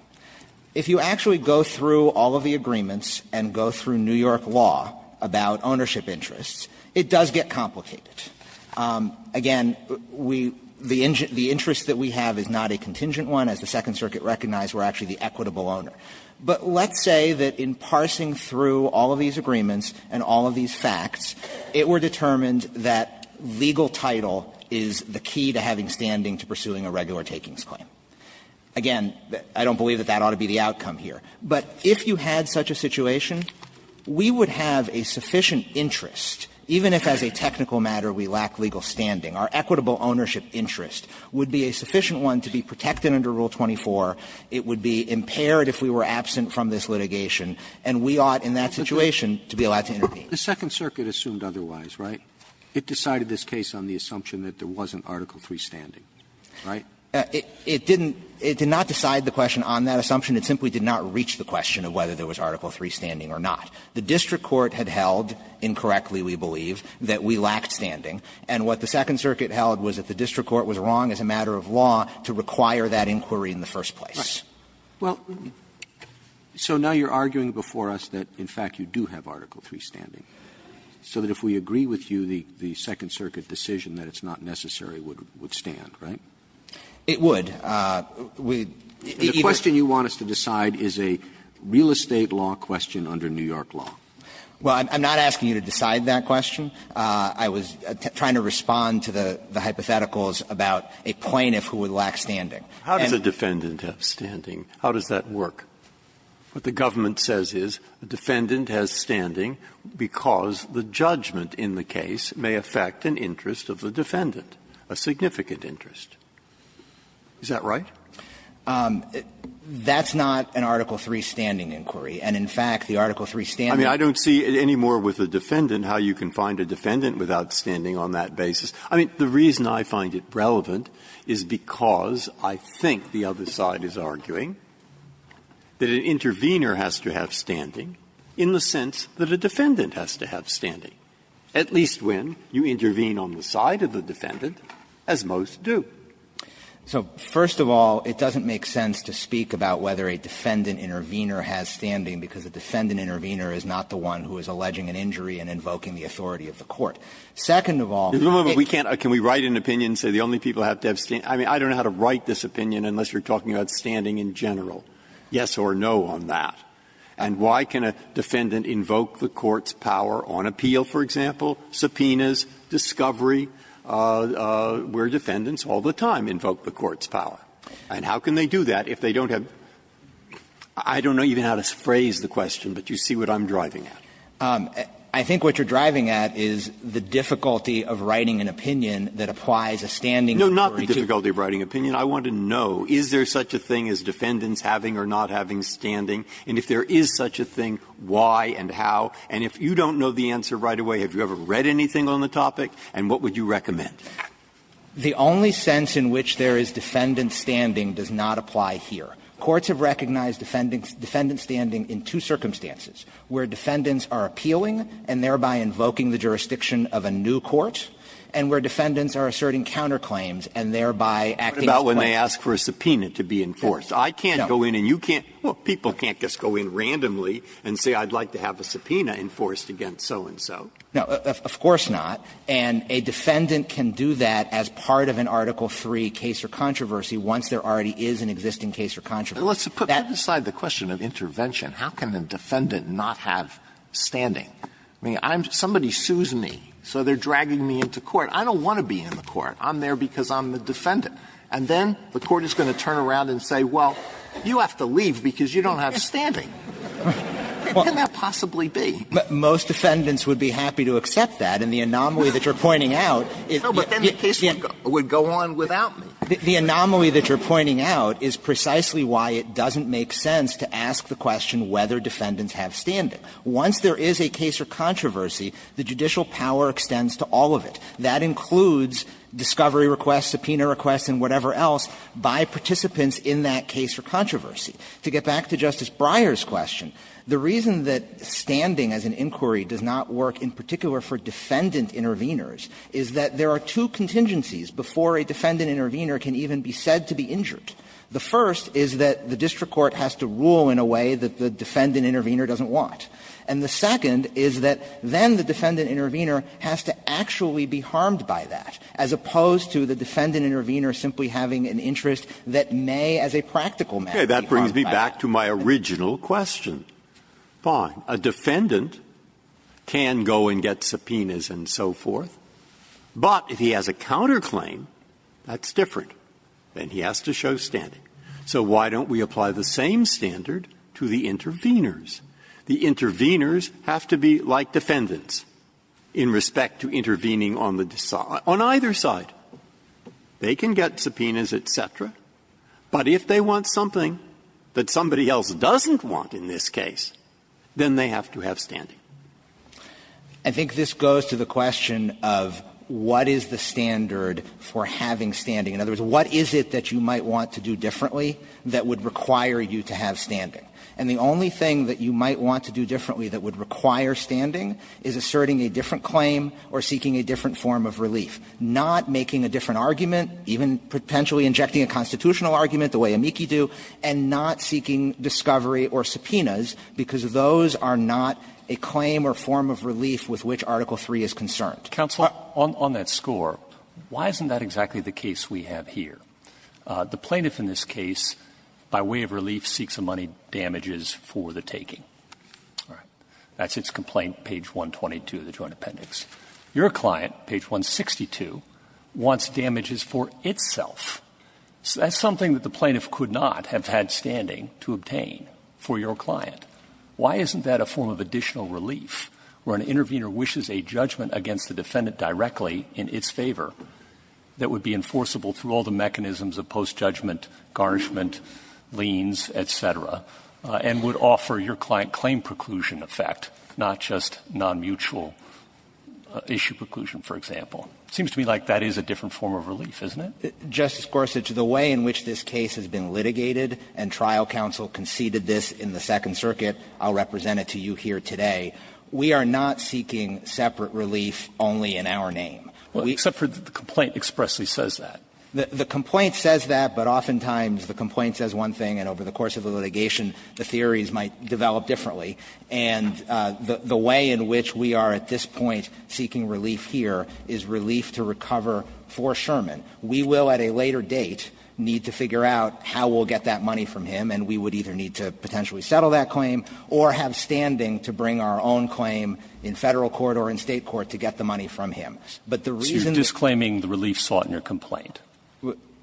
If you actually go through all of the agreements and go through New York law about ownership interests, it does get complicated. Again, we – the interest that we have is not a contingent one. As the Second Circuit recognized, we're actually the equitable owner. But let's say that in parsing through all of these agreements and all of these facts, it were determined that legal title is the key to having standing to pursuing a regular takings claim. Again, I don't believe that that ought to be the outcome here. But if you had such a situation, we would have a sufficient interest, even if as a technical matter we lack legal standing, our equitable ownership interest would be a sufficient one to be protected under Rule 24. It would be impaired if we were absent from this litigation, and we ought in that situation to be allowed to intervene. Roberts The Second Circuit assumed otherwise, right? It decided this case on the assumption that there wasn't Article III standing, right? It didn't – it did not decide the question on that assumption. It simply did not reach the question of whether there was Article III standing or not. The district court had held, incorrectly we believe, that we lacked standing. And what the Second Circuit held was that the district court was wrong as a matter of law to require that inquiry in the first place. Right. Well, so now you're arguing before us that, in fact, you do have Article III standing. So that if we agree with you, the Second Circuit decision that it's not necessary would stand, right? It would. We either – The question you want us to decide is a real estate law question under New York law. Well, I'm not asking you to decide that question. I was trying to respond to the hypotheticals about a plaintiff who would lack standing. How does a defendant have standing? How does that work? What the government says is a defendant has standing because the judgment in the case may affect an interest of the defendant, a significant interest. Is that right? That's not an Article III standing inquiry. And, in fact, the Article III standing inquiry I mean, I don't see any more with a defendant how you can find a defendant without standing on that basis. I mean, the reason I find it relevant is because I think the other side is arguing that an intervener has to have standing in the sense that a defendant has to have standing, at least when you intervene on the side of the defendant, as most do. So, first of all, it doesn't make sense to speak about whether a defendant intervener has standing because a defendant intervener is not the one who is alleging an injury and invoking the authority of the court. Second of all, it's not that we can't – Can we write an opinion and say the only people who have to have standing – I mean, you don't know how to write this opinion unless you're talking about standing in general. Yes or no on that. And why can a defendant invoke the court's power on appeal, for example, subpoenas, discovery, where defendants all the time invoke the court's power? And how can they do that if they don't have – I don't know even how to phrase the question, but you see what I'm driving at. I think what you're driving at is the difficulty of writing an opinion that applies a standing inquiry to – No, not the difficulty of writing an opinion. I want to know, is there such a thing as defendants having or not having standing? And if there is such a thing, why and how? And if you don't know the answer right away, have you ever read anything on the topic? And what would you recommend? The only sense in which there is defendant standing does not apply here. Courts have recognized defendant standing in two circumstances, where defendants are appealing and thereby invoking the jurisdiction of a new court, and where defendants are asserting counterclaims and thereby acting as plaintiffs. Breyer, what about when they ask for a subpoena to be enforced? I can't go in and you can't – well, people can't just go in randomly and say, I'd like to have a subpoena enforced against so-and-so. No, of course not. And a defendant can do that as part of an Article III case or controversy once there already is an existing case or controversy. Let's put that aside the question of intervention. How can a defendant not have standing? I mean, I'm – somebody sues me, so they're dragging me into court. I don't want to be in the court. I'm there because I'm the defendant. And then the court is going to turn around and say, well, you have to leave because you don't have standing. How can that possibly be? Most defendants would be happy to accept that. And the anomaly that you're pointing out is that you can't go on without me. The anomaly that you're pointing out is precisely why it doesn't make sense to ask the question whether defendants have standing. Once there is a case or controversy, the judicial power extends to all of it. That includes discovery requests, subpoena requests, and whatever else by participants in that case or controversy. To get back to Justice Breyer's question, the reason that standing as an inquiry does not work in particular for defendant intervenors is that there are two contingencies before a defendant intervenor can even be said to be injured. The first is that the district court has to rule in a way that the defendant intervenor doesn't want. And the second is that then the defendant intervenor has to actually be harmed by that, as opposed to the defendant intervenor simply having an interest that may as a practical matter be harmed by that. Breyer. That brings me back to my original question. Fine. A defendant can go and get subpoenas and so forth, but if he has a counterclaim, that's different, and he has to show standing. So why don't we apply the same standard to the intervenors? The intervenors have to be like defendants in respect to intervening on the decide – on either side. They can get subpoenas, et cetera, but if they want something that somebody else doesn't want in this case, then they have to have standing. I think this goes to the question of what is the standard for having standing. In other words, what is it that you might want to do differently that would require you to have standing? And the only thing that you might want to do differently that would require standing is asserting a different claim or seeking a different form of relief, not making a different argument, even potentially injecting a constitutional argument the way amici do, and not seeking discovery or subpoenas, because those are not a claim or form of relief with which Article III is concerned. But the plaintiff in this case, by way of relief, seeks a money date, and the plaintiff wants damages for the taking. That's its complaint, page 122 of the Joint Appendix. Your client, page 162, wants damages for itself. That's something that the plaintiff could not have had standing to obtain for your client. Why isn't that a form of additional relief where an intervenor wishes a judgment against the defendant directly in its favor that would be enforceable through all the mechanisms of post-judgment, garnishment, liens, et cetera, and would offer your client claim preclusion effect, not just nonmutual issue preclusion, for example? It seems to me like that is a different form of relief, isn't it? Justice Gorsuch, the way in which this case has been litigated, and trial counsel conceded this in the Second Circuit, I'll represent it to you here today, we are not We do not seek separate relief only in our name. Well, except for the complaint expressly says that. The complaint says that, but oftentimes the complaint says one thing, and over the course of the litigation, the theories might develop differently, and the way in which we are at this point seeking relief here is relief to recover for Sherman. We will, at a later date, need to figure out how we'll get that money from him, and we would either need to potentially settle that claim or have standing to bring our own claim in Federal court or in State court to get the money from him. But the reason that you're disclaiming the relief sought in your complaint?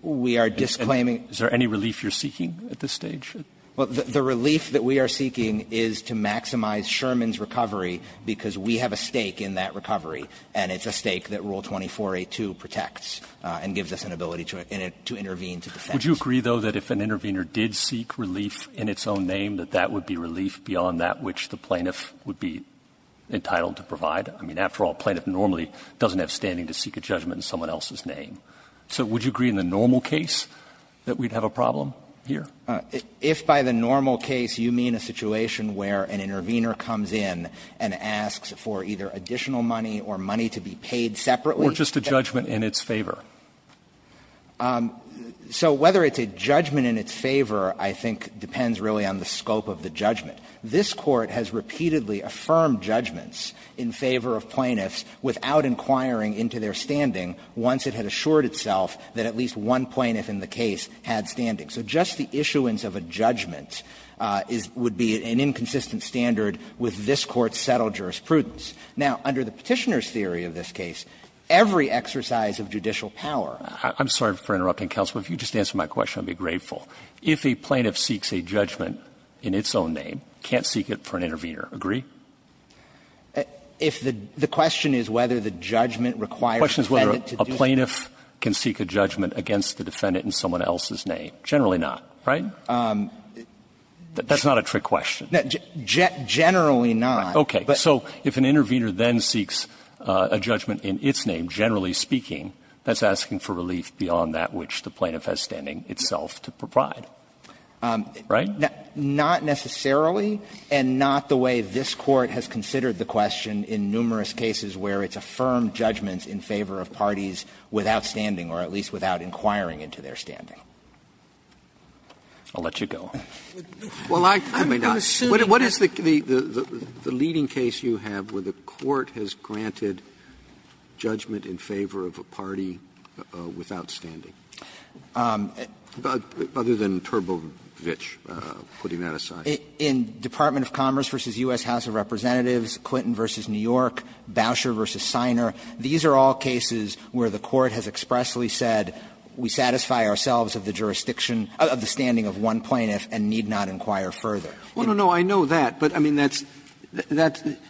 We are disclaiming Is there any relief you're seeking at this stage? Well, the relief that we are seeking is to maximize Sherman's recovery, because we have a stake in that recovery, and it's a stake that Rule 24a2 protects and gives us an ability to intervene, to defend. Would you agree, though, that if an intervener did seek relief in its own name, that that would be relief beyond that which the plaintiff would be entitled to provide? I mean, after all, a plaintiff normally doesn't have standing to seek a judgment in someone else's name. So would you agree in the normal case that we'd have a problem here? If by the normal case you mean a situation where an intervener comes in and asks for either additional money or money to be paid separately? Or just a judgment in its favor. So whether it's a judgment in its favor, I think, depends really on the scope of the judgment. This Court has repeatedly affirmed judgments in favor of plaintiffs without inquiring into their standing once it had assured itself that at least one plaintiff in the case had standing. So just the issuance of a judgment would be an inconsistent standard with this Court's settled jurisprudence. Now, under the Petitioner's theory of this case, every exercise of judicial power I'm sorry for interrupting, counsel, but if you'd just answer my question, I'd be grateful. If a plaintiff seeks a judgment in its own name, can't seek it for an intervener, agree? If the question is whether the judgment requires the defendant to do it. A plaintiff can seek a judgment against the defendant in someone else's name. Generally not, right? That's not a trick question. Generally not. Okay. So if an intervener then seeks a judgment in its name, generally speaking, that's asking for relief beyond that which the plaintiff has standing itself to provide. Right? Not necessarily, and not the way this Court has considered the question in numerous cases where it's affirmed judgments in favor of parties without standing, or at least without inquiring into their standing. I'll let you go. Well, I'm assuming that the leading case you have where the Court has granted the plaintiff a judgment in favor of a party without standing, other than Turbovich putting that aside. In Department of Commerce v. U.S. House of Representatives, Clinton v. New York, Boucher v. Siner, these are all cases where the Court has expressly said we satisfy ourselves of the jurisdiction of the standing of one plaintiff and need not inquire further. Well, no, no, I know that, but, I mean, that's the –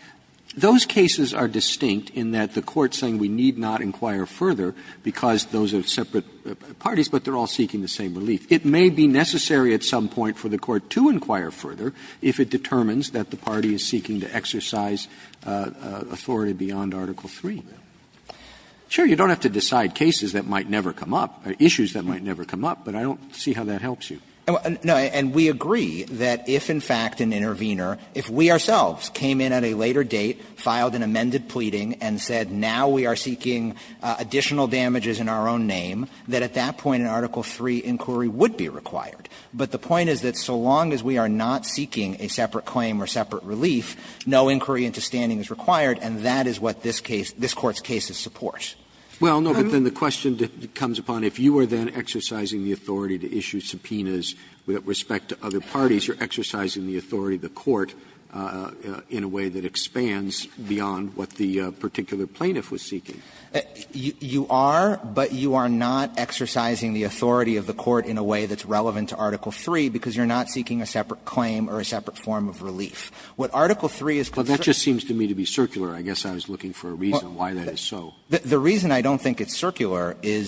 those cases are distinct in that the Court's saying we need not inquire further because those are separate parties, but they're all seeking the same relief. It may be necessary at some point for the Court to inquire further if it determines that the party is seeking to exercise authority beyond Article III. Sure, you don't have to decide cases that might never come up, or issues that might never come up, but I don't see how that helps you. No, and we agree that if, in fact, an intervener, if we ourselves came in at a later date, filed an amended pleading, and said now we are seeking additional damages in our own name, that at that point an Article III inquiry would be required. But the point is that so long as we are not seeking a separate claim or separate relief, no inquiry into standing is required, and that is what this case – this Court's cases support. Well, no, but then the question comes upon if you are then exercising the authority to issue subpoenas with respect to other parties, you're exercising the authority of the Court in a way that expands beyond what the particular plaintiff was seeking. You are, but you are not exercising the authority of the Court in a way that's relevant to Article III because you're not seeking a separate claim or a separate form of relief. What Article III is concerned about is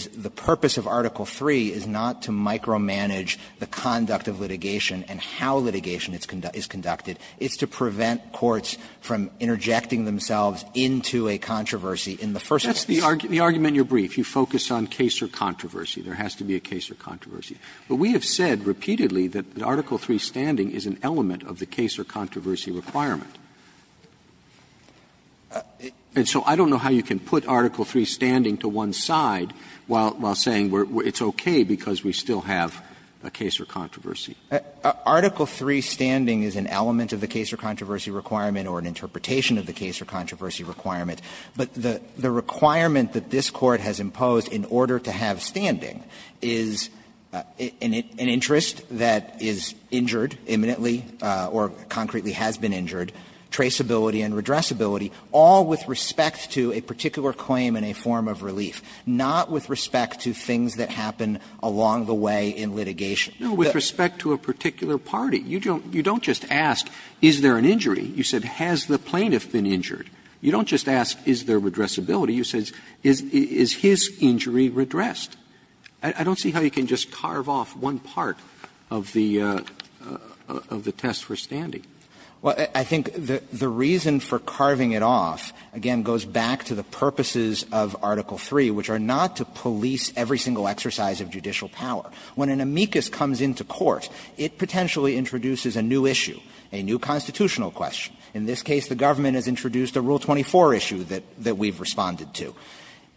that the purpose of Article III is not to micro manage the conduct of litigation and how litigation is conducted. It's to prevent courts from interjecting themselves into a controversy in the first place. Roberts That's the argument in your brief. You focus on case or controversy. There has to be a case or controversy. But we have said repeatedly that Article III standing is an element of the case or controversy requirement. And so I don't know how you can put Article III standing to one side while saying it's okay because we still have a case or controversy. Dabney Article III standing is an element of the case or controversy requirement or an interpretation of the case or controversy requirement. But the requirement that this Court has imposed in order to have standing is an interest that is injured imminently or concretely has been injured, traceability and redressability, all with respect to a particular claim in a form of relief, not with respect to things that happen along the way in litigation. Roberts No, with respect to a particular party. You don't just ask, is there an injury? You said, has the plaintiff been injured? You don't just ask, is there redressability? You said, is his injury redressed? I don't see how you can just carve off one part of the test for standing. Dabney Well, I think the reason for carving it off, again, goes back to the purposes of Article III, which are not to police every single exercise of judicial power. When an amicus comes into court, it potentially introduces a new issue, a new constitutional question. In this case, the government has introduced a Rule 24 issue that we've responded to.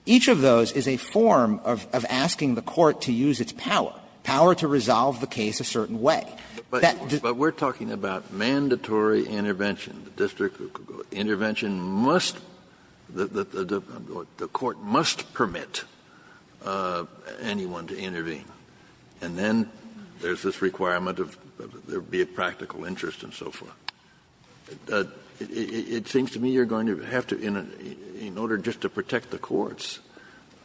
Each of those is a form of asking the Court to use its power, power to resolve the case a certain way. Kennedy But we're talking about mandatory intervention. The district intervention must the Court must permit anyone to intervene. And then there's this requirement of there be a practical interest and so forth. It seems to me you're going to have to, in order just to protect the courts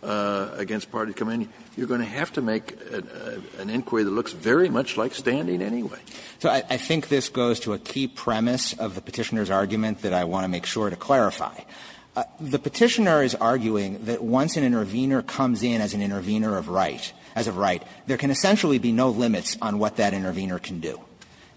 against party command, you're going to have to make an inquiry that looks very much like standing anyway. Dabney So I think this goes to a key premise of the Petitioner's argument that I want to make sure to clarify. The Petitioner is arguing that once an intervener comes in as an intervener of right, as of right, there can essentially be no limits on what that intervener can do.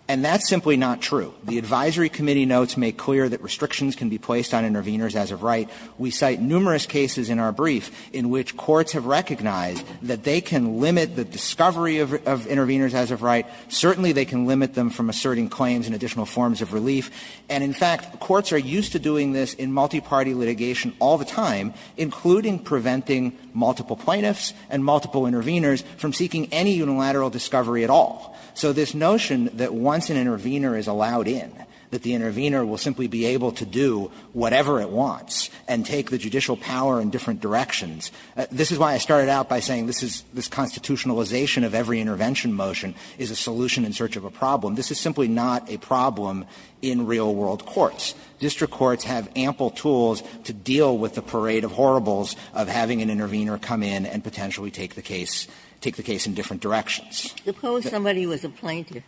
And that's simply not true. The advisory committee notes make clear that restrictions can be placed on interveners as of right. We cite numerous cases in our brief in which courts have recognized that they can limit the discovery of interveners as of right. Certainly, they can limit them from asserting claims and additional forms of relief. And in fact, courts are used to doing this in multiparty litigation all the time, including preventing multiple plaintiffs and multiple interveners from seeking any unilateral discovery at all. So this notion that once an intervener is allowed in, that the intervener will simply be able to do whatever it wants and take the judicial power in different directions, this is why I started out by saying this is this constitutionalization of every intervention motion is a solution in search of a problem. This is simply not a problem in real world courts. District courts have ample tools to deal with the parade of horribles of having an intervener come in and potentially take the case – take the case in different directions. Ginsburg. Suppose somebody was a plaintiff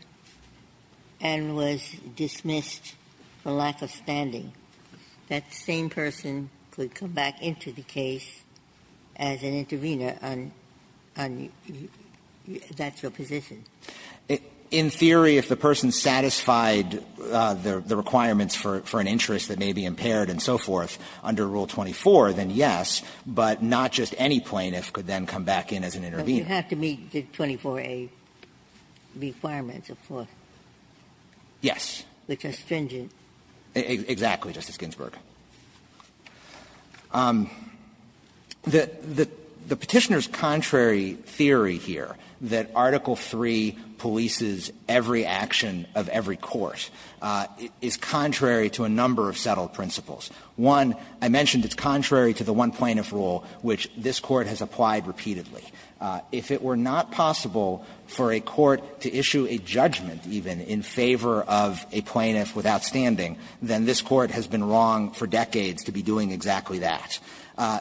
and was dismissed for lack of standing. That same person could come back into the case as an intervener and that's your position? In theory, if the person satisfied the requirements for an interest that may be impaired and so forth under Rule 24, then yes, but not just any plaintiff could then come back in as an intervener. But you have to meet the 24a requirements, of course. Yes. Which are stringent. Exactly. Exactly, Justice Ginsburg. The Petitioner's contrary theory here that Article III polices every action of every court is contrary to a number of settled principles. One, I mentioned it's contrary to the one-plaintiff rule, which this Court has applied repeatedly. If it were not possible for a court to issue a judgment even in favor of a plaintiff without standing, then this Court has been wrong for decades to be doing exactly that.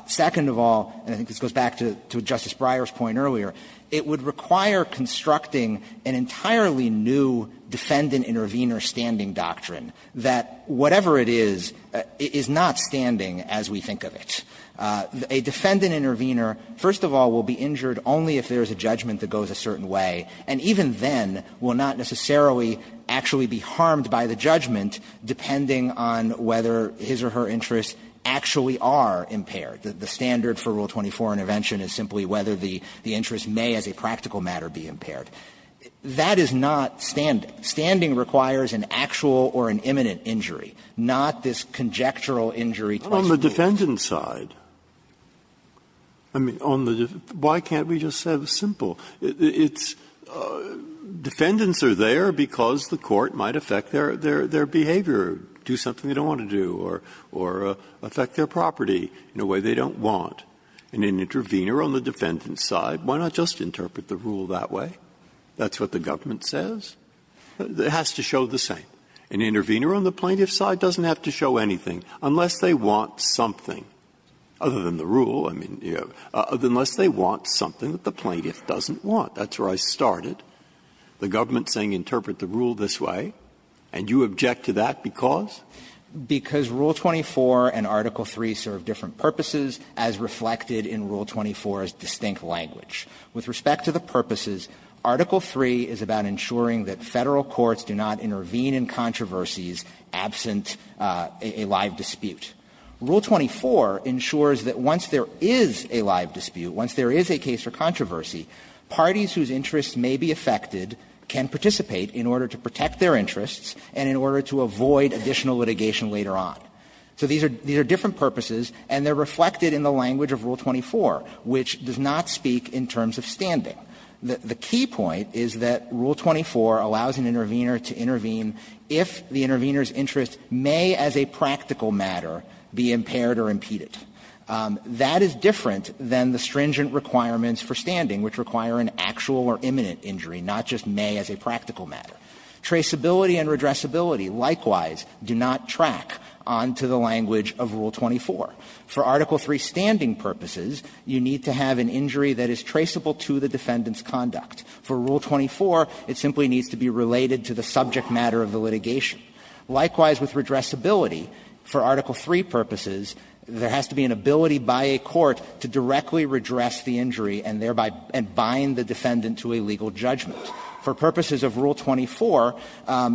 Second of all, and I think this goes back to Justice Breyer's point earlier, it would require constructing an entirely new defendant-intervener standing doctrine, that whatever it is, it is not standing as we think of it. A defendant-intervener, first of all, will be injured only if there is a judgment that goes a certain way, and even then will not necessarily actually be harmed by the judgment, depending on whether his or her interests actually are impaired. The standard for Rule 24 intervention is simply whether the interest may as a practical matter be impaired. That is not standing. Standing requires an actual or an imminent injury, not this conjectural injury twice a day. But on the defendant side, I mean, on the defendant side, why can't we just have a simple – it's defendants are there because the court might affect their – their behavior, do something they don't want to do, or affect their property in a way they don't want. And an intervener on the defendant's side, why not just interpret the rule that way? That's what the government says. It has to show the same. An intervener on the plaintiff's side doesn't have to show anything, unless they want something. Other than the rule, I mean, you know, unless they want something that the plaintiff doesn't want. That's where I started, the government saying interpret the rule this way, and you object to that because? Because Rule 24 and Article 3 serve different purposes, as reflected in Rule 24's distinct language. With respect to the purposes, Article 3 is about ensuring that Federal courts do not intervene in controversies absent a live dispute. Rule 24 ensures that once there is a live dispute, once there is a case for controversy, parties whose interests may be affected can participate in order to protect their rights, in order to avoid additional litigation later on. So these are different purposes, and they are reflected in the language of Rule 24, which does not speak in terms of standing. The key point is that Rule 24 allows an intervener to intervene if the intervener's interests may, as a practical matter, be impaired or impeded. That is different than the stringent requirements for standing, which require an actual or imminent injury, not just may as a practical matter. Traceability and redressability, likewise, do not track onto the language of Rule 24. For Article 3 standing purposes, you need to have an injury that is traceable to the defendant's conduct. For Rule 24, it simply needs to be related to the subject matter of the litigation. Likewise, with redressability, for Article 3 purposes, there has to be an ability by a court to directly redress the injury and thereby bind the defendant to a legal judgment. For purposes of Rule 24,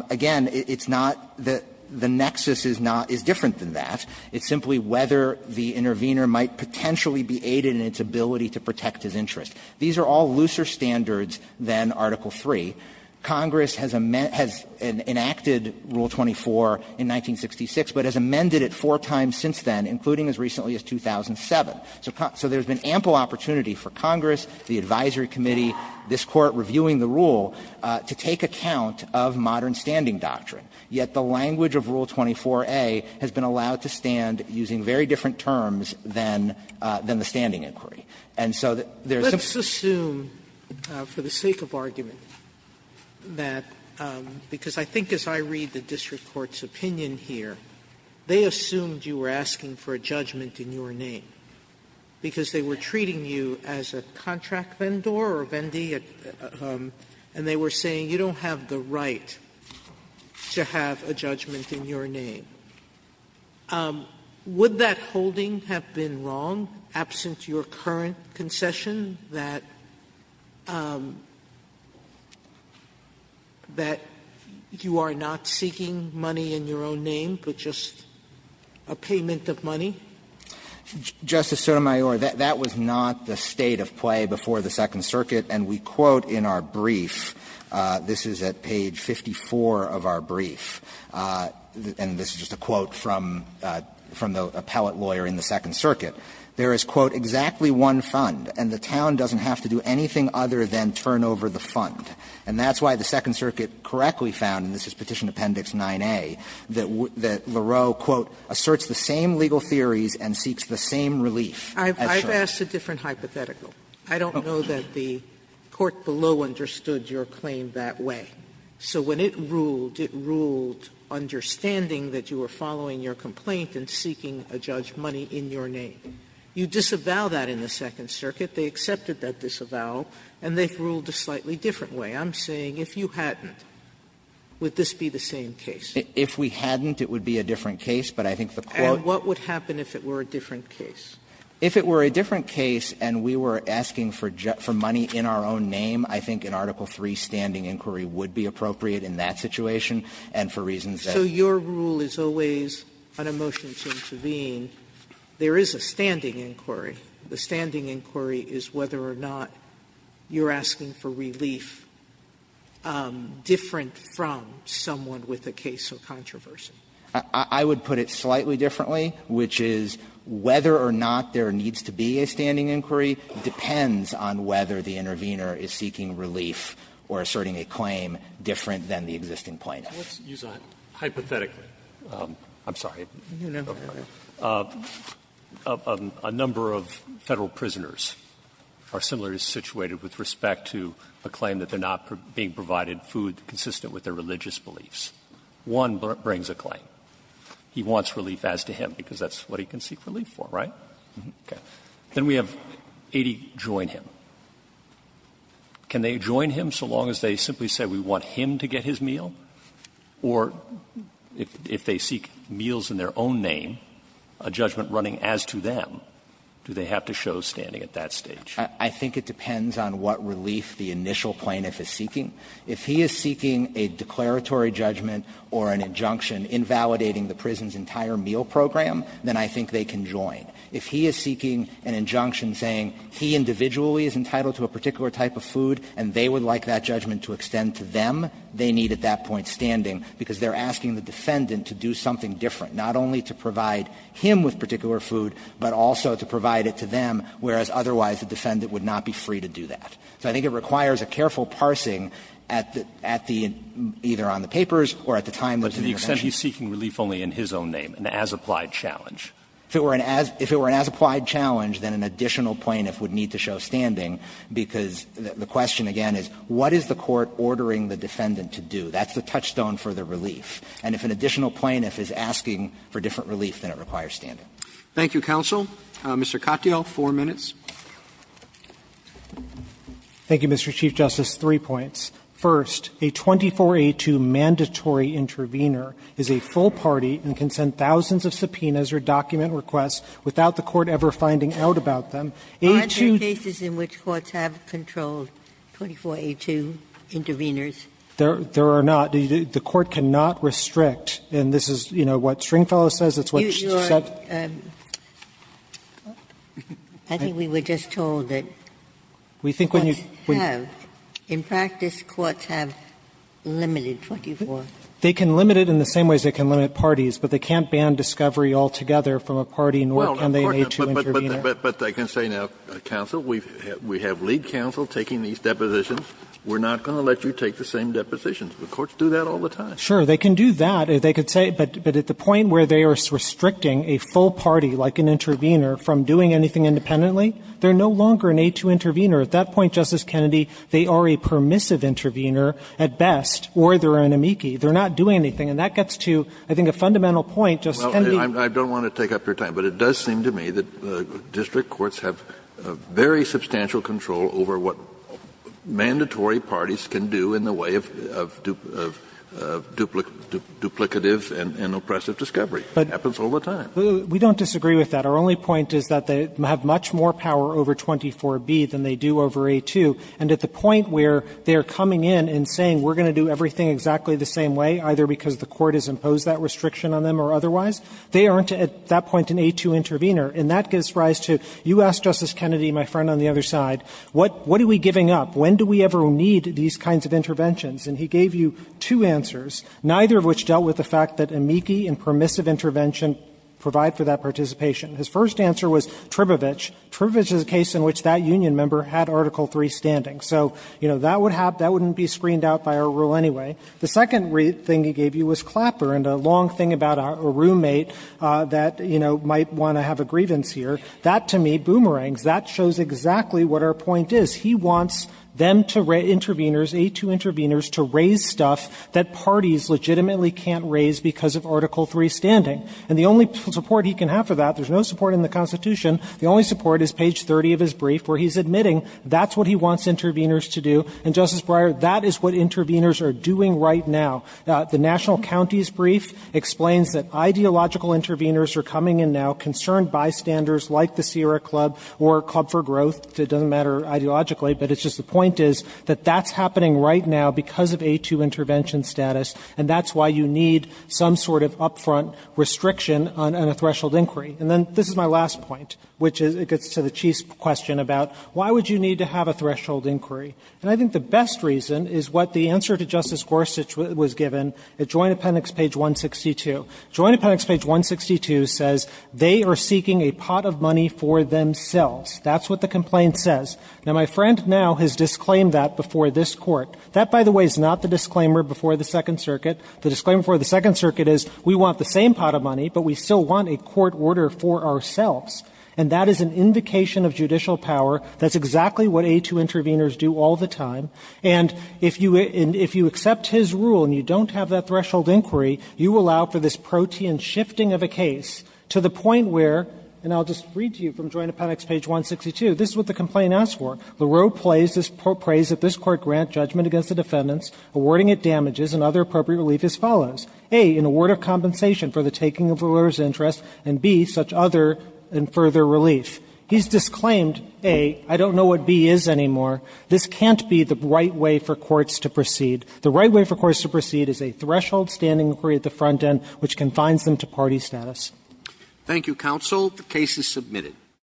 again, it's not that the nexus is not – is different than that. It's simply whether the intervener might potentially be aided in its ability to protect his interest. These are all looser standards than Article 3. Congress has enacted Rule 24 in 1966, but has amended it four times since then, including as recently as 2007. So there has been ample opportunity for Congress, the advisory committee, this Court reviewing the rule, to take account of modern standing doctrine. Yet the language of Rule 24a has been allowed to stand using very different terms than the standing inquiry. And so there's some – Sotomayor, let's assume, for the sake of argument, that – because I think as I read the district court's opinion here, they assumed you were asking for a judgment in your name, because they were treating you as a contract vendor or vendee, and they were saying you don't have the right to have a judgment in your name. Would that holding have been wrong, absent your current concession, that you are not seeking money in your own name, but just a payment of money? Justice Sotomayor, that was not the state of play before the Second Circuit. And we quote in our brief, this is at page 54 of our brief, and this is just a quote from the appellate lawyer in the Second Circuit, there is, quote, exactly one fund, and the town doesn't have to do anything other than turn over the fund. And that's why the Second Circuit correctly found, and this is Petition Appendix 9a, that Lareau, quote, asserts the same legal theories and seeks the same relief Sotomayor, I've asked a different hypothetical. I don't know that the court below understood your claim that way. So when it ruled, it ruled understanding that you were following your complaint and seeking a judgment in your name. You disavow that in the Second Circuit. They accepted that disavow, and they've ruled a slightly different way. I'm saying, if you hadn't, would this be the same case? If we hadn't, it would be a different case, but I think the court And what would happen if it were a different case? If it were a different case and we were asking for money in our own name, I think in Article III, standing inquiry would be appropriate in that situation, and for reasons that So your rule is always, on a motion to intervene, there is a standing inquiry. The standing inquiry is whether or not you're asking for relief different from someone with a case of controversy. I would put it slightly differently, which is, whether or not there needs to be a standing inquiry depends on whether the intervener is seeking relief or asserting a claim different than the existing plaintiff. Let's use a hypothetic. I'm sorry. A number of Federal prisoners are similarly situated with respect to a claim that they're not being provided food consistent with their religious beliefs. One brings a claim. He wants relief as to him, because that's what he can seek relief for, right? Then we have 80 join him. Can they join him so long as they simply say, we want him to get his meal? Or if they seek meals in their own name, a judgment running as to them, do they have to show standing at that stage? I think it depends on what relief the initial plaintiff is seeking. If he is seeking a declaratory judgment or an injunction invalidating the prison's entire meal program, then I think they can join. If he is seeking an injunction saying he individually is entitled to a particular type of food and they would like that judgment to extend to them, they need at that point standing, because they're asking the defendant to do something different, not only to provide him with particular food, but also to provide it to them, whereas otherwise the defendant would not be free to do that. So I think it requires a careful parsing at the end, either on the papers or at the time of the intervention. But to the extent he's seeking relief only in his own name, an as-applied challenge. If it were an as-applied challenge, then an additional plaintiff would need to show standing, because the question, again, is what is the court ordering the defendant to do? That's the touchstone for the relief. And if an additional plaintiff is asking for different relief, then it requires standing. Roberts. Thank you, counsel. Mr. Katyal, four minutes. Katyal. Thank you, Mr. Chief Justice. Three points. First, a 24A2 mandatory intervener is a full party and can send thousands of subpoenas or document requests without the court ever finding out about them. Are there cases in which courts have controlled 24A2 interveners? There are not. The court cannot restrict. And this is, you know, what Stringfellow says. It's what she said. I think we were just told that courts have. In practice, courts have limited 24. They can limit it in the same way as they can limit parties, but they can't ban discovery altogether from a party, nor can they make an A2 intervener. But I can say now, counsel, we have lead counsel taking these depositions. We're not going to let you take the same depositions. The courts do that all the time. Sure. They can do that. They could say, but at the point where they are restricting a full party, like an intervener, from doing anything independently, they're no longer an A2 intervener. At that point, Justice Kennedy, they are a permissive intervener at best, or they're an amici. They're not doing anything. And that gets to, I think, a fundamental point, Justice Kennedy. Well, I don't want to take up your time. But it does seem to me that district courts have very substantial control over what mandatory parties can do in the way of duplicative and oppressive discovery. It happens all the time. We don't disagree with that. Our only point is that they have much more power over 24B than they do over A2. And at the point where they're coming in and saying, we're going to do everything exactly the same way, either because the court has imposed that restriction on them or otherwise, they aren't, at that point, an A2 intervener. And that gives rise to, you asked Justice Kennedy, my friend on the other side, what are we giving up? When do we ever need these kinds of interventions? And he gave you two answers, neither of which dealt with the fact that amici and permissive intervention provide for that participation. His first answer was Tribovich. Tribovich is a case in which that union member had Article III standing. So, you know, that would have been screened out by our rule anyway. The second thing he gave you was Clapper and a long thing about a roommate that, you know, might want to have a grievance here. That, to me, boomerangs. That shows exactly what our point is. He wants them to raise interveners, A2 interveners, to raise stuff that parties legitimately can't raise because of Article III standing. And the only support he can have for that, there's no support in the Constitution, the only support is page 30 of his brief where he's admitting that's what he wants interveners to do. And, Justice Breyer, that is what interveners are doing right now. The national county's brief explains that ideological interveners are coming in now, concerned bystanders like the Sierra Club or Club for Growth. It doesn't matter ideologically, but it's just the point is that that's happening right now because of A2 intervention status, and that's why you need some sort of up-front restriction on a threshold inquiry. And then this is my last point, which is it gets to the Chief's question about why would you need to have a threshold inquiry. And I think the best reason is what the answer to Justice Gorsuch was given at Joint Appendix page 162. Joint Appendix page 162 says, They are seeking a pot of money for themselves. That's what the complaint says. Now, my friend now has disclaimed that before this Court. That, by the way, is not the disclaimer before the Second Circuit. The disclaimer before the Second Circuit is we want the same pot of money, but we still want a court order for ourselves. And that is an invocation of judicial power. That's exactly what A2 intervenors do all the time. And if you accept his rule and you don't have that threshold inquiry, you allow for this protean shifting of a case to the point where, and I'll just read to you from Joint Appendix page 162, this is what the complaint asks for. Laureau prays that this Court grant judgment against the defendants, awarding it damages and other appropriate relief as follows. A, an award of compensation for the taking of the lawyer's interest, and B, such other and further relief. He's disclaimed, A, I don't know what B is anymore. This can't be the right way for courts to proceed. The right way for courts to proceed is a threshold standing inquiry at the front end which confines them to party status. Roberts. Thank you, counsel. The case is submitted.